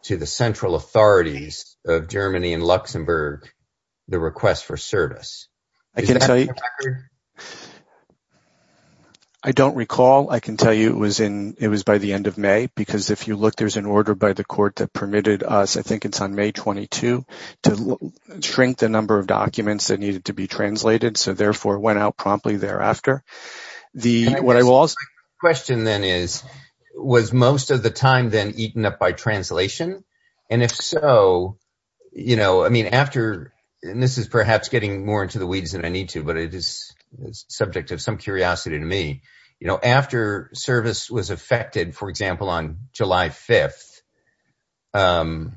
to the central authorities of Germany and Luxembourg the request for service. I don't recall. I can tell you it was by the end of May because if you look, there's an order by the court that permitted us, I think it's on May 22, to shrink the number of documents that needed to be translated. So, therefore, it went out promptly thereafter. The question then is, was most of the time then eaten up by translation? And if so, you know, I mean, after this is perhaps getting more into the weeds than I need to, but it is subject to some curiosity to me. You know, after service was affected, for example, on July 5th, you know,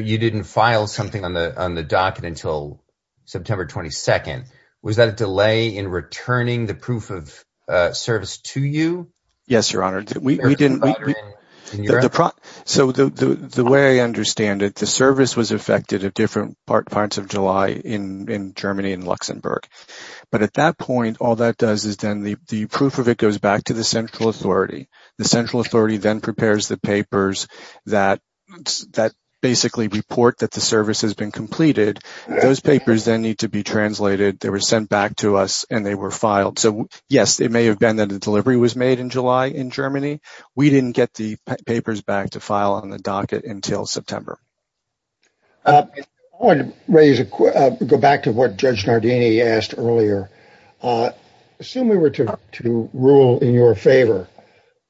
you didn't file something on the docket until September 22nd. Was that a delay in returning the proof of service to you? Yes, Your Honor. So the way I understand it, the service was affected at different parts of July in Germany and Luxembourg. But at that point, all that does is then the proof of it goes back to the central authority. The central authority then prepares the papers that basically report that the service has been completed. Those papers then need to be translated. They were sent back to us and they were filed. So, yes, it may have been that a delivery was made in July in Germany. We didn't get the papers back to file on the docket until September. I want to go back to what Judge Nardini asked earlier. Assume we were to rule in your favor.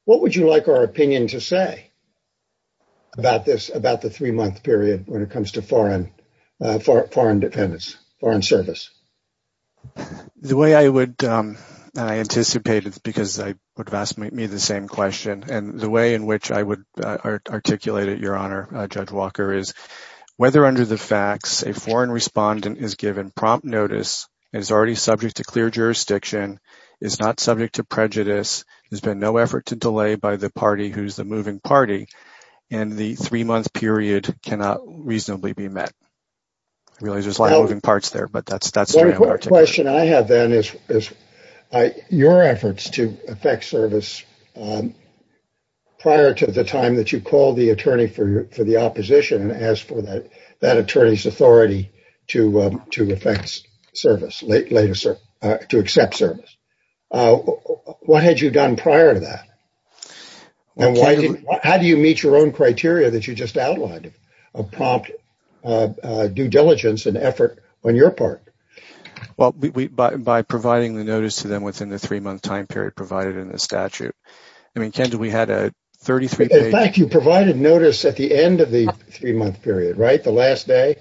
What would you like our opinion to say about this, about the three-month period when it comes to foreign defendants, foreign service? The way I would anticipate it, because I would have asked me the same question, and the way in which I would articulate it, Your Honor, Judge Walker, is whether under the facts, a foreign respondent is given prompt notice, is already subject to clear jurisdiction, is not subject to prejudice, there's been no effort to delay by the party who's the moving party, and the three-month period cannot reasonably be met. I realize there's a lot of moving parts there, but that's the way I would articulate it. One question I have then is your efforts to affect service prior to the time that you called the attorney for the opposition and asked for that attorney's authority to affect service, to accept service. What had you done prior to that? How do you meet your own criteria that you just outlined of prompt due diligence and effort on your part? By providing the notice to them within the three-month time period provided in the statute. In fact, you provided notice at the end of the three-month period, right, the last day?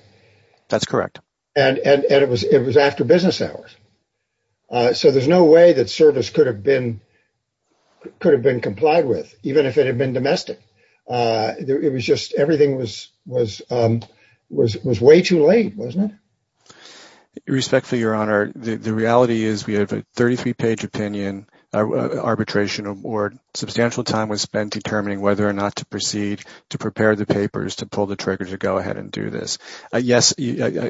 That's correct. And it was after business hours. So there's no way that service could have been complied with, even if it had been domestic. It was just everything was way too late, wasn't it? Respectfully, Your Honor, the reality is we have a 33-page opinion, arbitration, or substantial time was spent determining whether or not to proceed to prepare the papers to pull the trigger to go ahead and do this. Yes,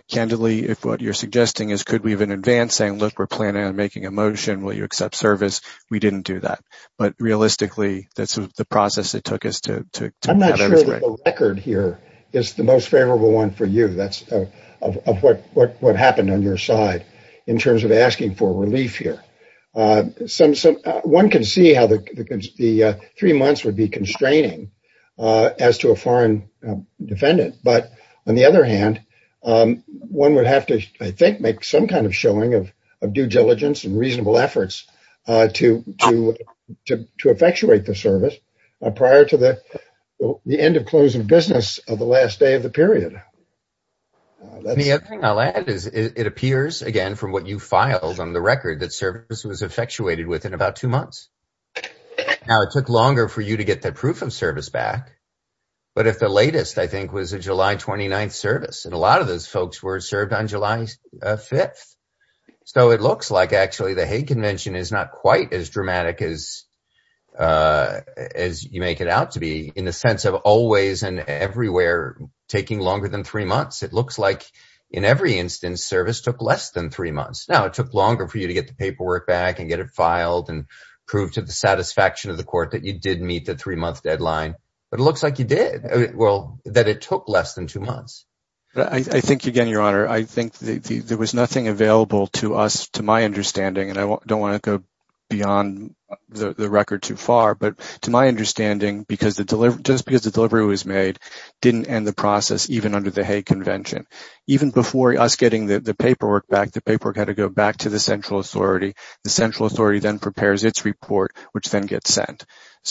candidly, if what you're suggesting is could we have an advance saying, look, we're planning on making a motion, will you accept service, we didn't do that. But realistically, that's the process it took us to get to this point. I'm not sure the record here is the most favorable one for you of what happened on your side in terms of asking for relief here. One can see how the three months would be constraining as to a foreign defendant. But on the other hand, one would have to, I think, make some kind of showing of due diligence and reasonable efforts to effectuate the service prior to the end of closing business of the last day of the period. The other thing I'll add is it appears, again, from what you filed on the record, that service was effectuated within about two months. Now, it took longer for you to get that proof of service back. But if the latest, I think, was a July 29th service, and a lot of those folks were served on July 5th, so it looks like actually the Hague Convention is not quite as dramatic as you make it out to be in the sense of always and everywhere taking longer than three months. It looks like in every instance service took less than three months. Now, it took longer for you to get the paperwork back and get it filed and prove to the satisfaction of the court that you did meet the three-month deadline. But it looks like you did, well, that it took less than two months. I think, again, Your Honor, I think there was nothing available to us, to my understanding, and I don't want to go beyond the record too far. But to my understanding, just because the delivery was made didn't end the process even under the Hague Convention. Even before us getting the paperwork back, the paperwork had to go back to the central authority. The central authority then prepares its report, which then gets sent.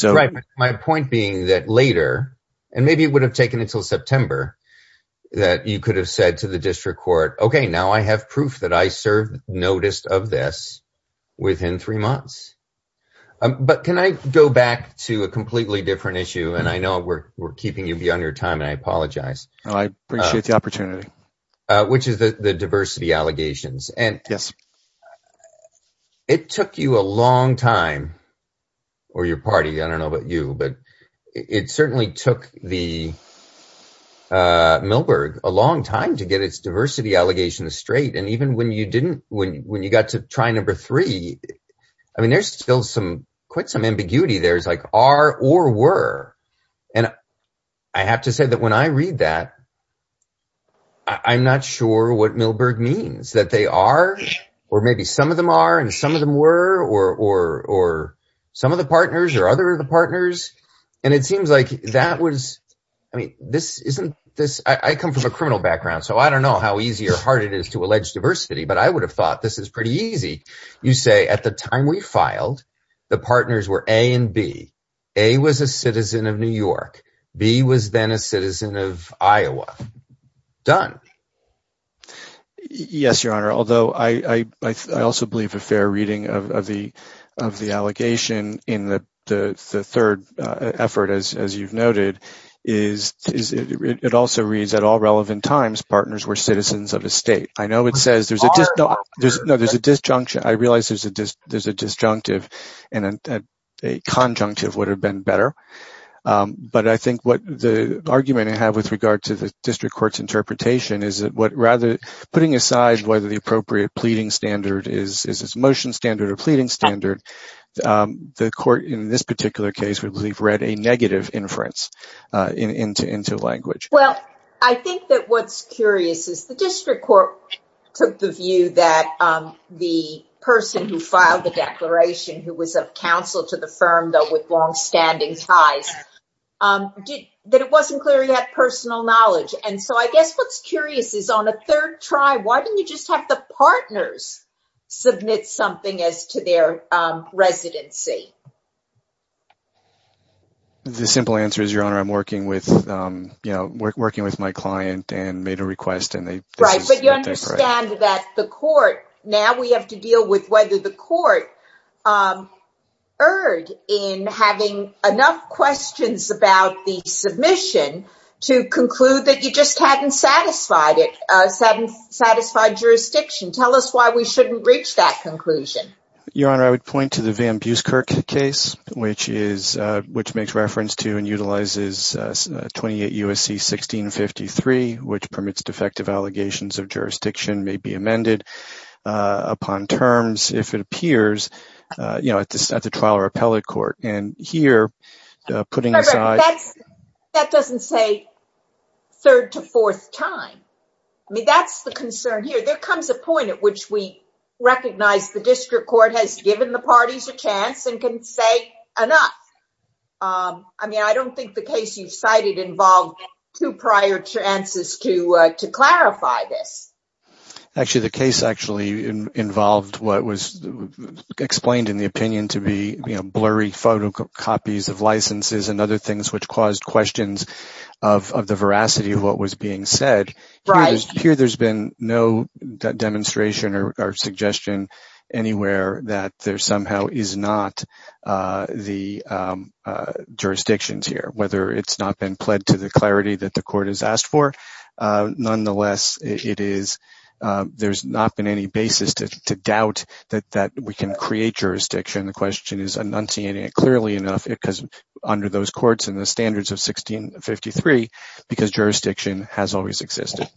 Right. My point being that later, and maybe it would have taken until September, that you could have said to the district court, okay, now I have proof that I served notice of this within three months. But can I go back to a completely different issue? And I know we're keeping you beyond your time, and I apologize. I appreciate the opportunity. Which is the diversity allegations. Yes. It took you a long time, or your party, I don't know about you, but it certainly took the Milberg a long time to get its diversity allegations straight. And even when you didn't, when you got to try number three, I mean, there's still some ambiguity there. It's like are or were. And I have to say that when I read that, I'm not sure what Milberg means, that they are, or maybe some of them are and some of them were, or some of the partners or other of the partners. And it seems like that was, I mean, this isn't this, I come from a criminal background, so I don't know how easy or hard it is to allege diversity, but I would have thought this is pretty easy. You say at the time we filed, the partners were A and B. A was a citizen of New York. B was then a citizen of Iowa. Done. Yes, Your Honor. Although I also believe a fair reading of the allegation in the third effort, as you've noted, is it also reads that all relevant times partners were citizens of the state. I know it says, no, there's a disjunction. I realize there's a disjunctive and a conjunctive would have been better. But I think what the argument I have with regard to the district court's interpretation is that what rather, putting aside whether the appropriate pleading standard is its motion standard or pleading standard, the court in this particular case would believe read a negative inference into language. Well, I think that what's curious is the district court took the view that the person who filed the declaration, who was of counsel to the firm, though, with longstanding ties, that it wasn't clear he had personal knowledge. And so I guess what's curious is on the third try, why didn't you just let the partners submit something as to their residency? The simple answer is, Your Honor, I'm working with my client and made a request. Right, but you understand that the court, now we have to deal with whether the court erred in having enough questions about the submission to conclude that you just hadn't satisfied it, hadn't satisfied jurisdiction. Tell us why we shouldn't reach that conclusion. Your Honor, I would point to the Van Buskirk case, which makes reference to and utilizes 28 U.S.C. 1653, which permits defective allegations of jurisdiction may be amended upon terms, if it appears, at the trial or appellate court. That doesn't say third to fourth time. I mean, that's the concern here. There comes a point at which we recognize the district court has given the parties a chance and can say enough. I mean, I don't think the case you cited involved two prior chances to clarify this. Actually, the case actually involved what was explained in the opinion to be blurry photocopies of licenses and other things which caused questions of the veracity of what was being said. Here, there's been no demonstration or suggestion anywhere that there somehow is not the jurisdictions here, whether it's not been pled to the clarity that the court has asked for. Nonetheless, there's not been any basis to doubt that we can create jurisdiction. The question is, I'm not seeing it clearly enough under those courts and the standards of 1653, because jurisdiction has always existed.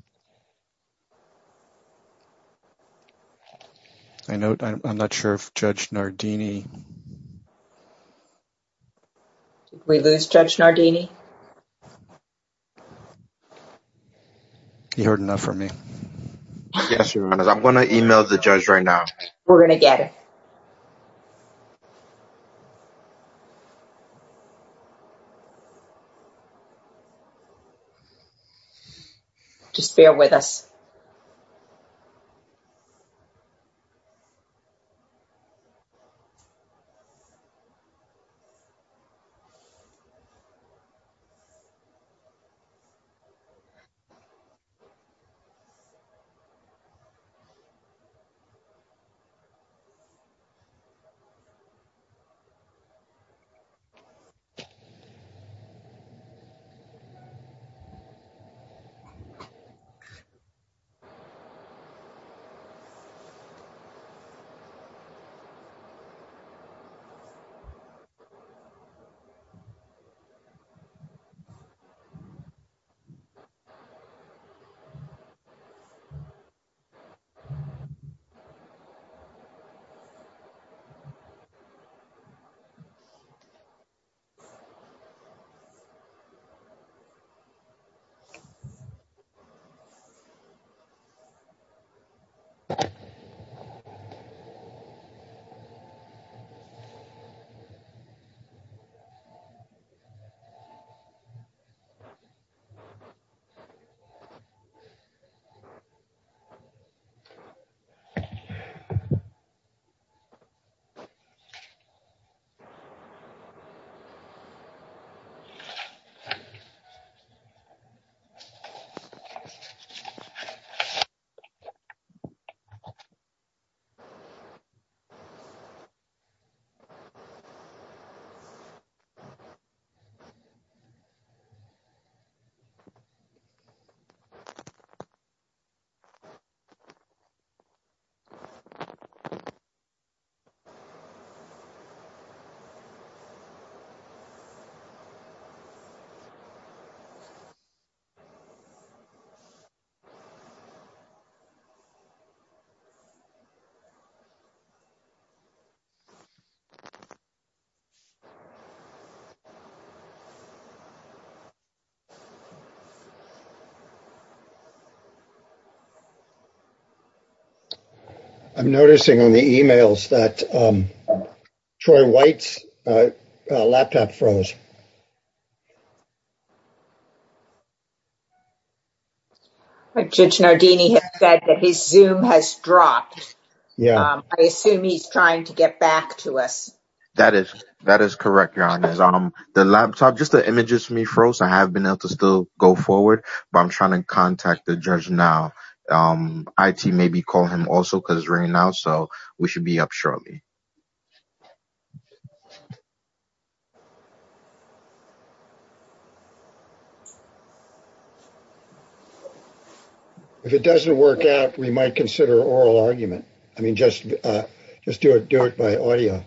I'm not sure if Judge Nardini. Judge Nardini. You heard enough from me. I'm going to email the judge right now. We're going to get it. Just bear with us. We're going to get it. Okay. Okay. Okay. I'm noticing in the emails that Troy White's laptop froze. Judge Nardini has said that his Zoom has dropped. Yeah. I assume he's trying to get back to us. That is correct, Your Honor. Just the images for me froze. I have been able to still go forward, but I'm trying to contact the judge now. IT maybe call him also, because it's ringing now, so we should be up shortly. If it doesn't work out, we might consider oral argument. I mean, just do it by audio.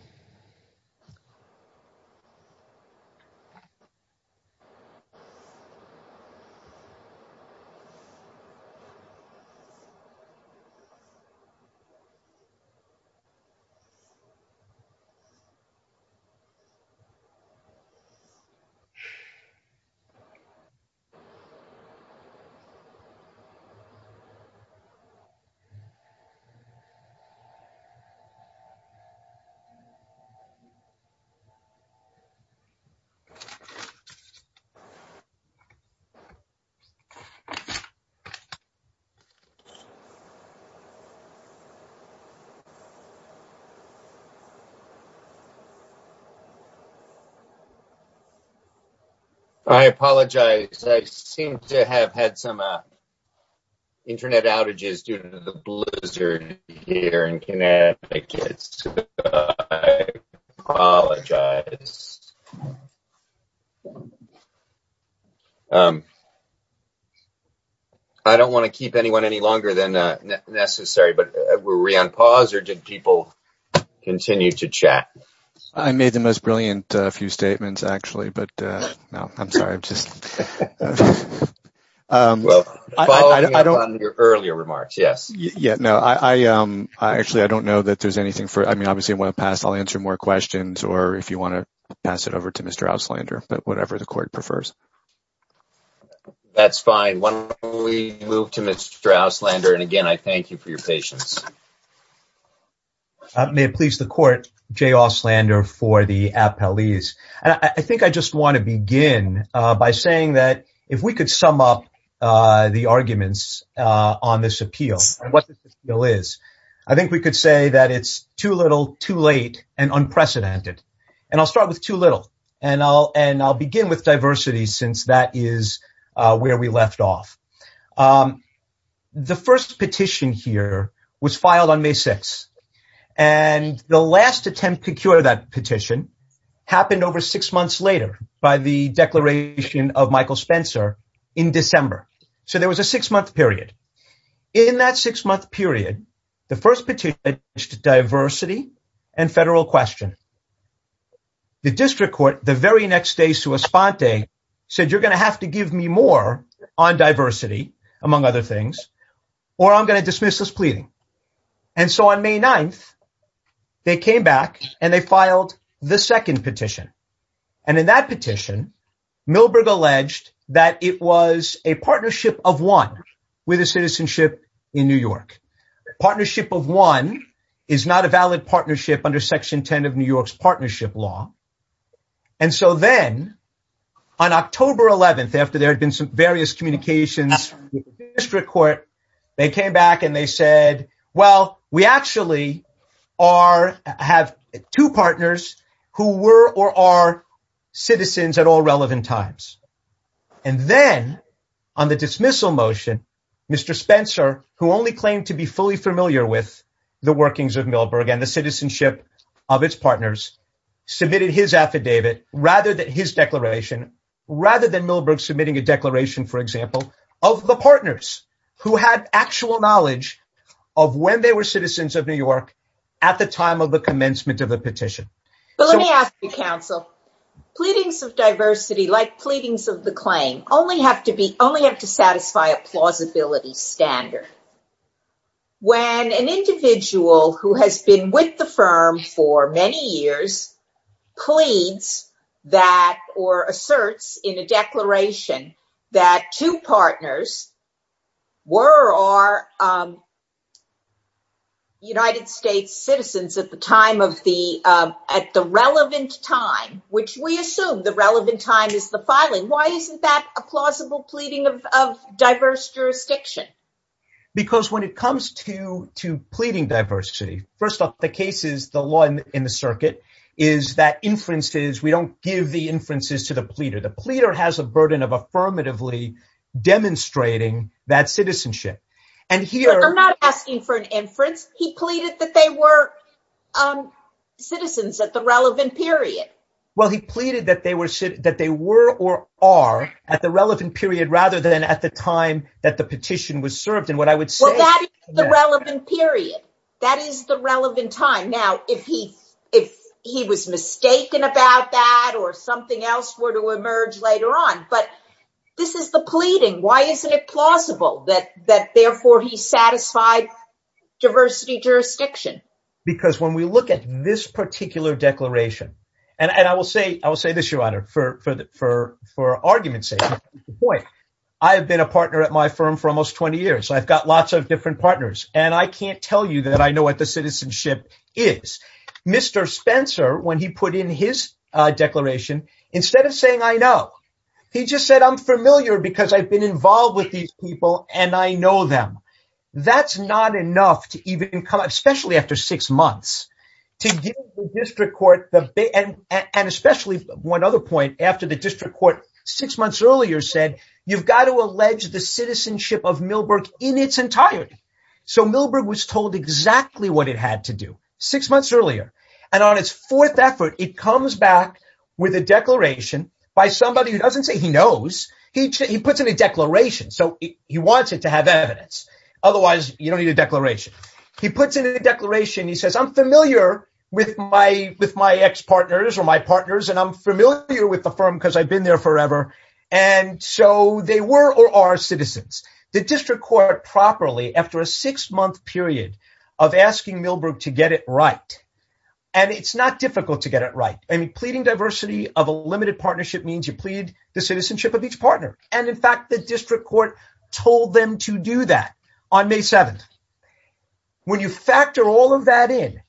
Okay. I apologize. I seem to have had some Internet outages due to the Blizzard here in Connecticut. I apologize. I don't want to keep anyone any longer than necessary. Were we on pause or did people continue to chat? I made the most brilliant few statements, actually. I'm sorry. Following up on your earlier remarks, yes. Actually, I don't know that there's anything. I'll answer more questions or if you want to pass it over to Mr. Auslander. Whatever the court prefers. That's fine. We move to Mr. Auslander. Again, I thank you for your patience. May it please the court, Jay Auslander for the appellees. I think I just want to begin by saying that if we could sum up the arguments on this appeal and what this appeal is, I think we could say that it's too little, too late, and unprecedented. And I'll start with too little. And I'll begin with diversity since that is where we left off. The first petition here was filed on May 6th. And the last attempt to cure that petition happened over six months later by the declaration of Michael Spencer in December. So there was a six-month period. In that six-month period, the first petition was diversity and federal question. The district court the very next day said you're going to have to give me more on diversity, among other things, or I'm going to dismiss this pleading. And so on May 9th, they came back and they filed the second petition. And in that petition, Milberg alleged that it was a partnership of one with a citizenship in New York. Partnership of one is not a valid partnership under Section 10 of New York's partnership law. And so then on October 11th, after there had been some various communications with the district court, they came back and they said, well, we actually have two partners who were or are citizens at all relevant times. And then on the dismissal motion, Mr. Spencer, who only claimed to be fully familiar with the workings of Milberg and the citizenship of its partners, submitted his affidavit rather than his declaration, rather than Milberg submitting a declaration, for example, of the partners who had actual knowledge of when they were citizens of New York at the time of the commencement of the petition. So let me ask you, counsel, pleadings of diversity, like pleadings of the claim, only have to satisfy a plausibility standard. When an individual who has been with the firm for many years pleads that or asserts in a declaration that two partners were or are United States citizens at the time of the, at the relevant time, which we assume the relevant time is the filing, why isn't that a plausible pleading of diverse jurisdiction? Because when it comes to pleading diversity, first off, the case is, the law in the circuit, is that inferences, we don't give the inferences to the pleader. The pleader has a burden of affirmatively demonstrating that citizenship. I'm not asking for an inference. He pleaded that they were citizens at the relevant period. Well, he pleaded that they were or are at the relevant period, rather than at the time that the petition was served. And what I would say- Well, that is the relevant period. That is the relevant time. Now, if he was mistaken about that or something else were to emerge later on, but this is the pleading. Why isn't it plausible that therefore he satisfied diversity jurisdiction? Because when we look at this particular declaration, and I will say this, Your Honor, for argument's sake, I have been a partner at my firm for almost 20 years. I've got lots of different partners, and I can't tell you that I know what the citizenship is. Mr. Spencer, when he put in his declaration, instead of saying, I know, he just said, I'm familiar because I've been involved with these people, and I know them. That's not enough to even come up, especially after six months. And especially one other point, after the district court six months earlier said, you've got to allege the citizenship of Milberg in its entirety. So Milberg was told exactly what it had to do six months earlier. And on its fourth effort, it comes back with a declaration by somebody who doesn't say he knows. He puts in a declaration. So he wants it to have evidence. Otherwise, you don't need a declaration. He puts in a declaration. He says, I'm familiar with my ex-partners or my partners, and I'm familiar with the firm because I've been there forever. And so they were or are citizens. The district court properly, after a six-month period of asking Milberg to get it right, and it's not difficult to get it right. And pleading diversity of a limited partnership means you plead the citizenship of each partner. And in fact, the district court told them to do that on May 7th. When you factor all of that in,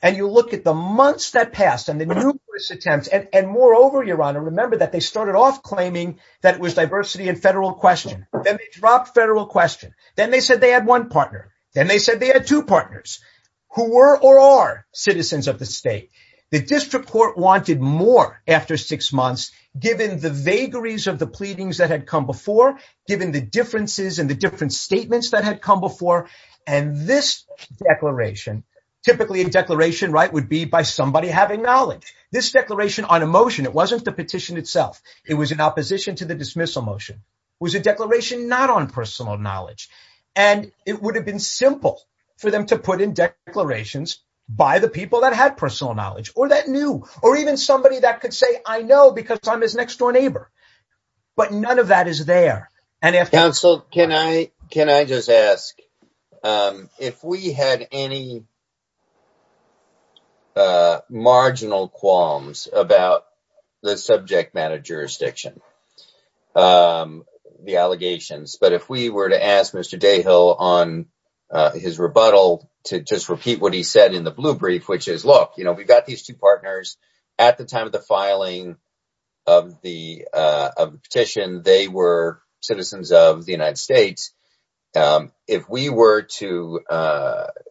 and you look at the months that passed, and the numerous attempts, and moreover, Your Honor, remember that they started off claiming that it was diversity and federal question. Then they dropped federal question. Then they said they had one partner. Then they said they had two partners, who were or are citizens of the state. The district court wanted more after six months, given the vagaries of the pleadings that had come before, given the differences and the different statements that had come before. And this declaration, typically a declaration, right, would be by somebody having knowledge. This declaration on a motion, it wasn't the petition itself. It was in opposition to the dismissal motion. It was a declaration not on personal knowledge. And it would have been simple for them to put in declarations by the people that had personal knowledge, or that knew, or even somebody that could say, I know because I'm his next-door neighbor. But none of that is there. Counsel, can I just ask, if we had any marginal qualms about the subject matter jurisdiction, the allegations, but if we were to ask Mr. Dayhill on his rebuttal to just repeat what he said in the blue brief, which is, look, we got these two partners at the time of the filing of the petition. They were citizens of the United States. If we were to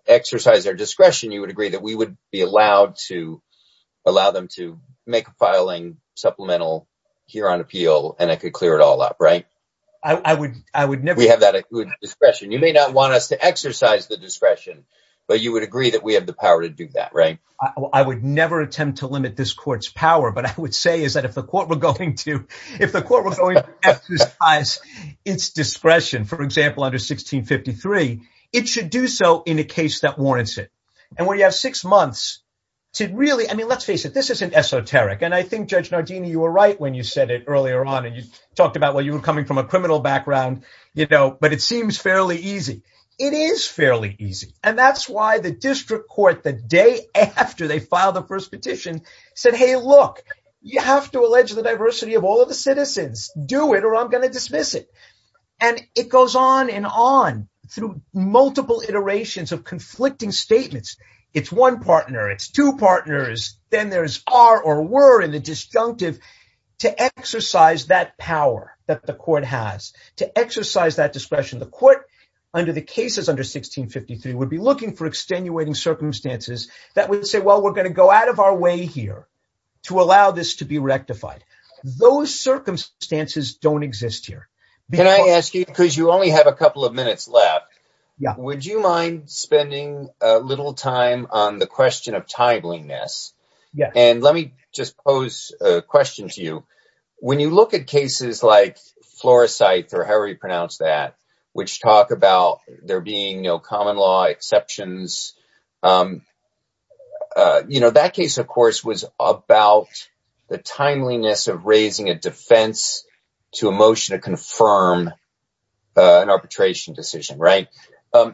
exercise their discretion, you would agree that we would be allowed to allow them to make a filing supplemental here on appeal, and it could clear it all up, right? I would never. We have that discretion. You may not want us to exercise the discretion, but you would agree that we have the power to do that, right? I would never attempt to limit this court's power, but I would say is that if the court were going to exercise its discretion, for example, under 1653, it should do so in a case that warrants it. And where you have six months to really, I mean, let's face it, this isn't esoteric. And I think Judge Nardini, you were right when you said it earlier on, and you talked about where you were coming from a criminal background, you know, but it seems fairly easy. It is fairly easy. And that's why the district court the day after they filed the first petition said, hey, look, you have to allege the diversity of all of the citizens. Do it or I'm going to dismiss it. And it goes on and on through multiple iterations of conflicting statements. It's one partner. It's two partners. Then there's are or were in the disjunctive to exercise that power that the court has, to exercise that discretion. The court under the cases under 1653 would be looking for extenuating circumstances that would say, well, we're going to go out of our way here to allow this to be rectified. Those circumstances don't exist here. Can I ask you, because you only have a couple of minutes left, would you mind spending a little time on the question of timeliness? And let me just pose a question to you. When you look at cases like Flores sites or however you pronounce that, which talk about there being no common law exceptions, you know, that case, of course, was about the timeliness of raising a defense to a motion to confirm an arbitration decision. Right.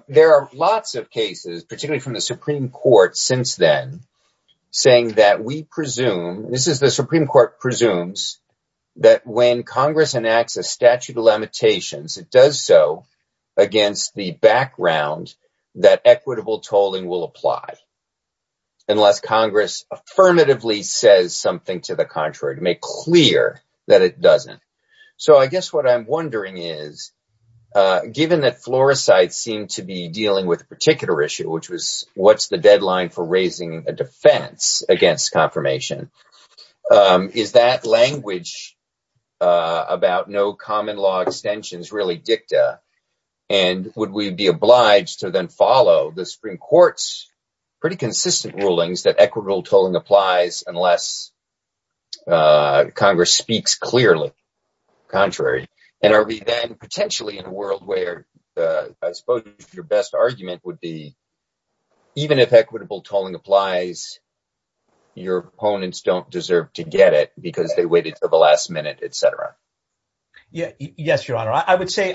There are lots of cases, particularly from the Supreme Court since then, saying that we presume this is the Supreme Court presumes that when Congress enacts a statute of limitations, it does so against the background that equitable tolling will apply. Unless Congress affirmatively says something to the contrary, make clear that it doesn't. So I guess what I'm wondering is given that Flores sites seem to be dealing with a particular issue, which was what's the deadline for raising a defense against confirmation? Is that language about no common law extensions really dicta? And would we be obliged to then follow the Supreme Court's pretty consistent rulings that equitable tolling applies unless Congress speaks clearly contrary? And are we then potentially in a world where I suppose your best argument would be even if equitable tolling applies, your opponents don't deserve to get it because they waited for the last minute, etc. Yes, Your Honor. I would say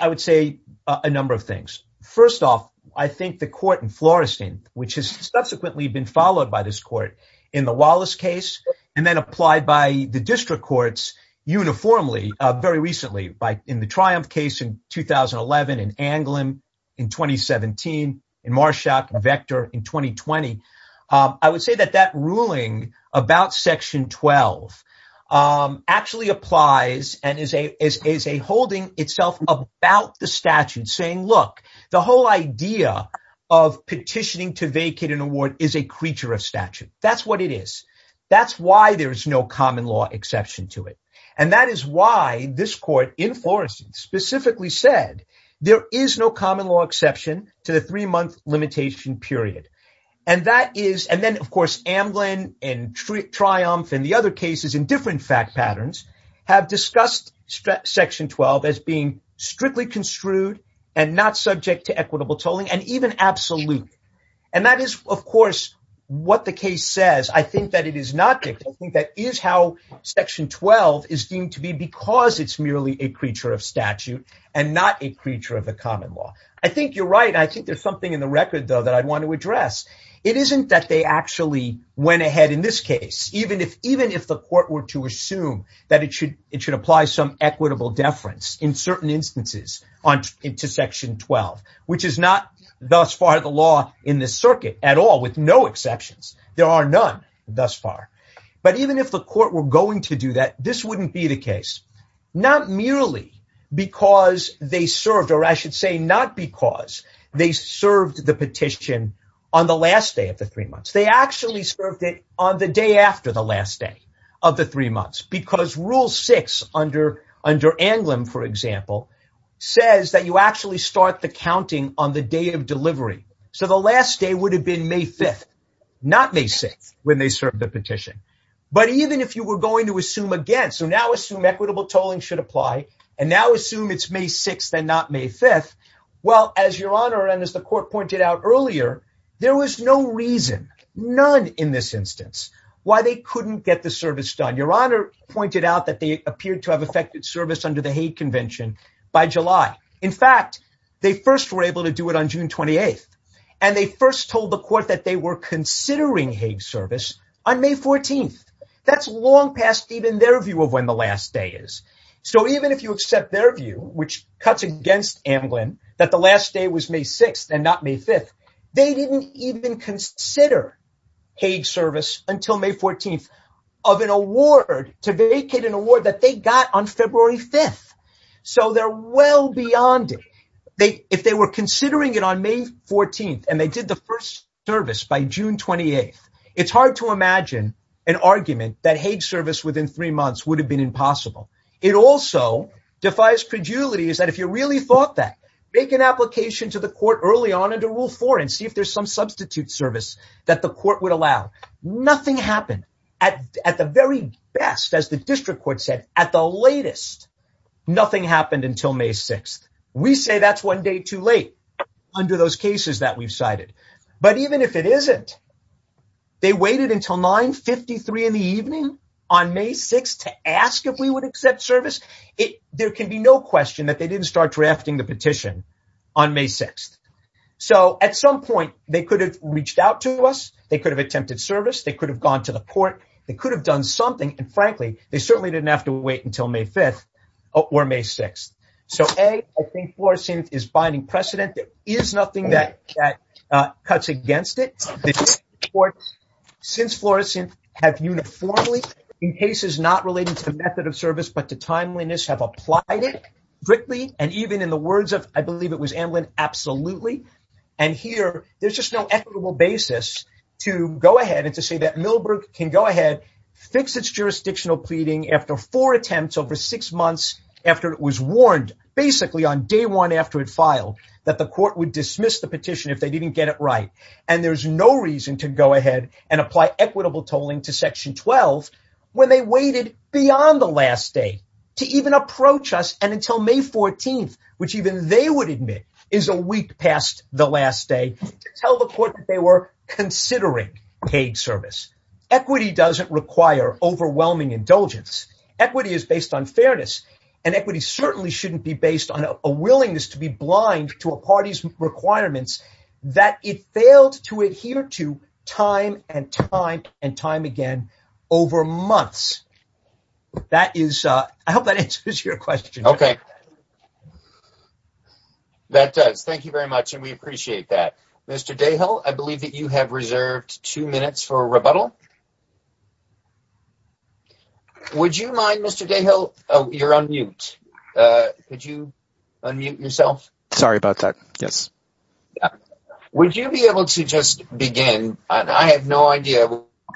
a number of things. First off, I think the court in Florestan, which has subsequently been followed by this court in the Wallace case, and then applied by the district courts uniformly very recently in the Triumph case in 2011, in Anglin in 2017, in Marshak and Vector in 2020. I would say that that ruling about Section 12 actually applies and is a holding itself about the statute saying, look, the whole idea of petitioning to vacate an award is a creature of statute. That's what it is. That's why there's no common law exception to it. And that is why this court in Florestan specifically said there is no common law exception to the three-month limitation period. And that is, and then of course Anglin and Triumph and the other cases in different fact patterns have discussed Section 12 as being strictly construed and not subject to equitable tolling and even absolute. And that is, of course, what the case says. I think that it is not. I think that is how Section 12 is deemed to be because it's merely a creature of statute and not a creature of the common law. I think you're right. I think there's something in the record, though, that I'd want to address. It isn't that they actually went ahead in this case, even if the court were to assume that it should apply some equitable deference in certain instances into Section 12, which is not thus far the law in this circuit at all, with no exceptions. There are none thus far. But even if the court were going to do that, this wouldn't be the case. Not merely because they served, or I should say not because they served the petition on the last day of the three months. They actually served it on the day after the last day of the three months because Rule 6 under Anglin, for example, says that you actually start the counting on the day of delivery. So the last day would have been May 5th, not May 6th, when they served the petition. But even if you were going to assume again, so now assume equitable tolling should apply, and now assume it's May 6th and not May 5th, well, as Your Honor and as the court pointed out earlier, there was no reason, none in this instance, why they couldn't get the service done. Your Honor pointed out that they appeared to have effected service under the Hague Convention by July. In fact, they first were able to do it on June 28th. And they first told the court that they were considering Hague service on May 14th. That's long past even their view of when the last day is. So even if you accept their view, which cuts against Anglin, that the last day was May 6th and not May 5th, they didn't even consider Hague service until May 14th of an award, to vacate an award that they got on February 5th. So they're well beyond it. If they were considering it on May 14th, and they did the first service by June 28th, it's hard to imagine an argument that Hague service within three months would have been impossible. It also defies credulity that if you really thought that, make an application to the court early on under Rule 4 and see if there's some substitute service that the court would allow. Nothing happened. At the very best, as the district court said, at the latest, nothing happened until May 6th. We say that's one day too late under those cases that we've cited. But even if it isn't, they waited until 9.53 in the evening on May 6th to ask if we would accept service? There can be no question that they didn't start drafting the petition on May 6th. So at some point, they could have reached out to us. They could have attempted service. They could have gone to the court. They could have done something. And frankly, they certainly didn't have to wait until May 5th or May 6th. So, A, I think fluorescence is binding precedent. There is nothing that cuts against it. The district courts, since fluorescence, have uniformly, in cases not related to the method of service but to timeliness, have applied it quickly. And even in the words of, I believe it was Amlin, absolutely. And here, there's just no equitable basis to go ahead and to say that Millbrook can go ahead, fix its jurisdictional pleading after four attempts over six months after it was warned, basically on day one after it filed, that the court would dismiss the petition if they didn't get it right. And there's no reason to go ahead and apply equitable tolling to Section 12 when they waited beyond the last day to even approach us and until May 14th, which even they would admit is a week past the last day, to tell the court that they were considering paid service. Equity doesn't require overwhelming indulgence. Equity is based on fairness. And equity certainly shouldn't be based on a willingness to be blind to a party's requirements that it failed to adhere to time and time and time again over months. That is, I hope that answers your question. Okay. That does. Thank you very much, and we appreciate that. Mr. Dayhill, I believe that you have reserved two minutes for a rebuttal. Would you mind, Mr. Dayhill, you're on mute. Could you unmute yourself? Sorry about that. Yes. Would you be able to just begin? I have no idea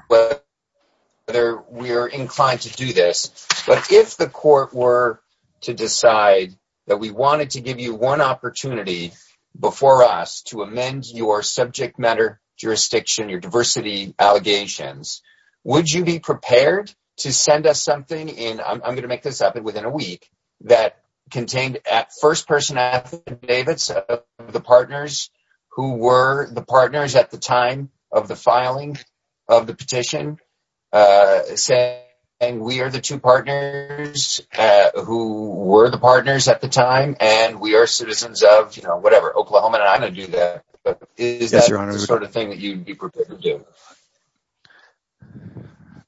whether we are inclined to do this, but if the court were to decide that we wanted to give you one opportunity before us to amend your subject matter jurisdiction, your diversity allegations, would you be prepared to send us something in, I'm going to make this up, within a week, that contained first-person affidavits of the partners who were the partners at the time of the filing of the petition, saying we are the two partners who were the partners at the time, and we are citizens of, you know, whatever, Oklahoma, and I'm going to do that. Is that the sort of thing that you'd be prepared to do?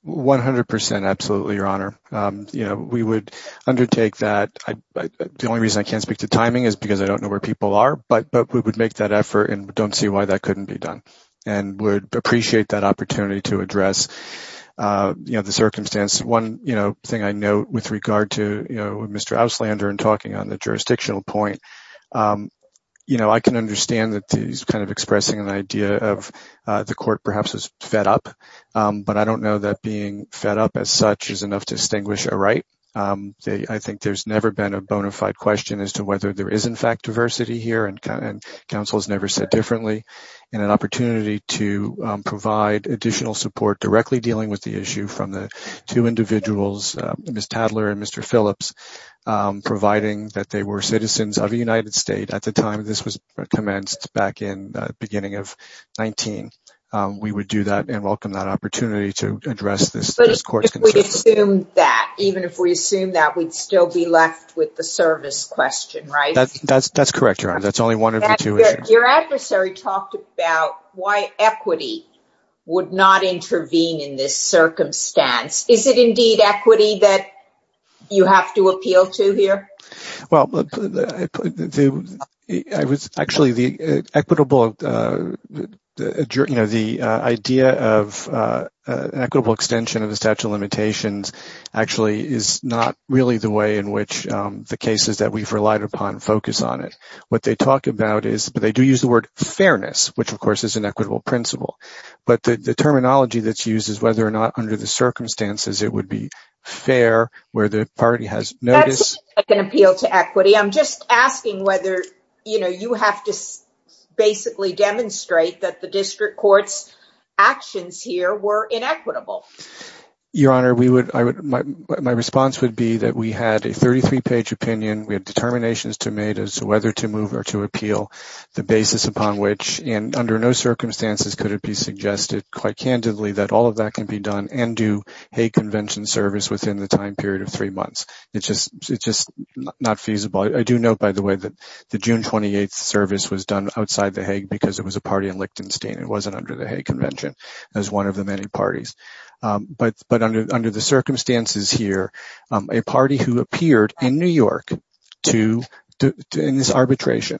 100%, absolutely, Your Honor. You know, we would undertake that. The only reason I can't speak to timing is because I don't know where people are, but we would make that effort and don't see why that couldn't be done, and would appreciate that opportunity to address, you know, the circumstance. One, you know, thing I know with regard to, you know, Mr. Auslander and talking on the jurisdictional point, you know, I can understand that he's kind of expressing an idea of the court perhaps is fed up, but I don't know that being fed up as such is enough to distinguish a right. I think there's never been a bona fide question as to whether there is, in fact, diversity here, and counsel has never said differently, and an opportunity to provide additional support directly dealing with the issue from the two individuals, Ms. Tadler and Mr. Phillips, providing that they were citizens of the United States at the time this was commenced back in the beginning of 19. We would do that and welcome that opportunity to address this course. But if we assume that, even if we assume that, we'd still be left with the service question, right? That's correct, Your Honor. That's only one of the two. Your adversary talked about why equity would not intervene in this circumstance. Is it indeed equity that you have to appeal to here? Well, actually, the idea of equitable extension of the statute of limitations actually is not really the way in which the cases that we've relied upon focus on it. What they talk about is, but they do use the word fairness, which of course is an equitable principle. But the terminology that's used is whether or not under the circumstances it would be fair where the party has notice. That's not an appeal to equity. I'm just asking whether you have to basically demonstrate that the district court's actions here were inequitable. Your Honor, my response would be that we had a 33-page opinion. We had determinations to make as to whether to move or to appeal, the basis upon which, and under no circumstances could it be suggested quite candidly that all of that can be done and do Hague Convention service within the time period of three months. It's just not feasible. I do know, by the way, that the June 28th service was done outside the Hague because it was a party in Lichtenstein. It wasn't under the Hague Convention as one of the many parties. But under the circumstances here, a party who appeared in New York in this arbitration,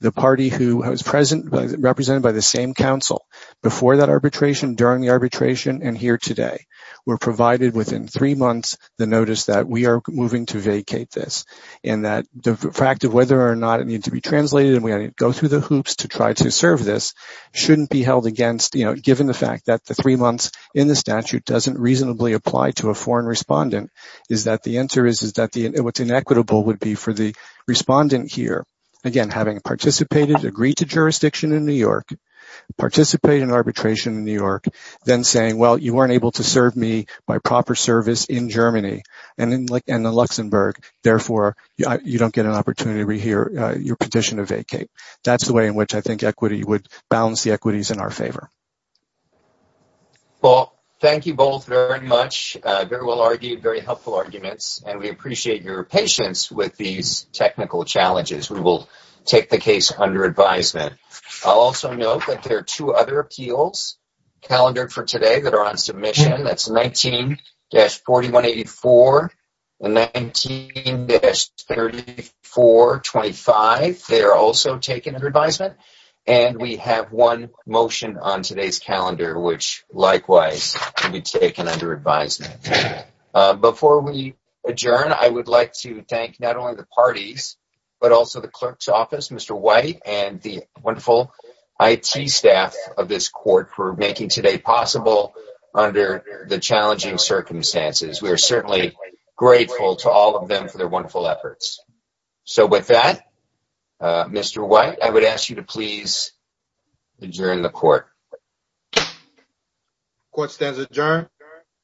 the party who was represented by the same counsel before that arbitration, during the arbitration, and here today were provided within three months the notice that we are moving to vacate this. The fact of whether or not it needs to be translated and we go through the hoops to try to serve this shouldn't be held against, given the fact that the three months in the statute doesn't reasonably apply to a foreign respondent. The answer is that what's inequitable would be for the respondent here, again, having participated, agreed to jurisdiction in New York, participated in arbitration in New York, then saying, well, you weren't able to serve me my proper service in Germany and in Luxembourg. Therefore, you don't get an opportunity to rehear your petition to vacate. That's the way in which I think equity would balance the equities in our favor. Well, thank you both very much. Very well argued, very helpful arguments. And we appreciate your patience with these technical challenges. We will take the case under advisement. I'll also note that there are two other appeals calendared for today that are on submission. That's 19-4184 and 19-3425. They are also taken under advisement. And we have one motion on today's calendar, which likewise can be taken under advisement. Before we adjourn, I would like to thank not only the parties, but also the clerk's office, Mr. White, and the wonderful IT staff of this court for making today possible under the challenging circumstances. We are certainly grateful to all of them for their wonderful efforts. So with that, Mr. White, I would ask you to please adjourn the court. The court stands adjourned.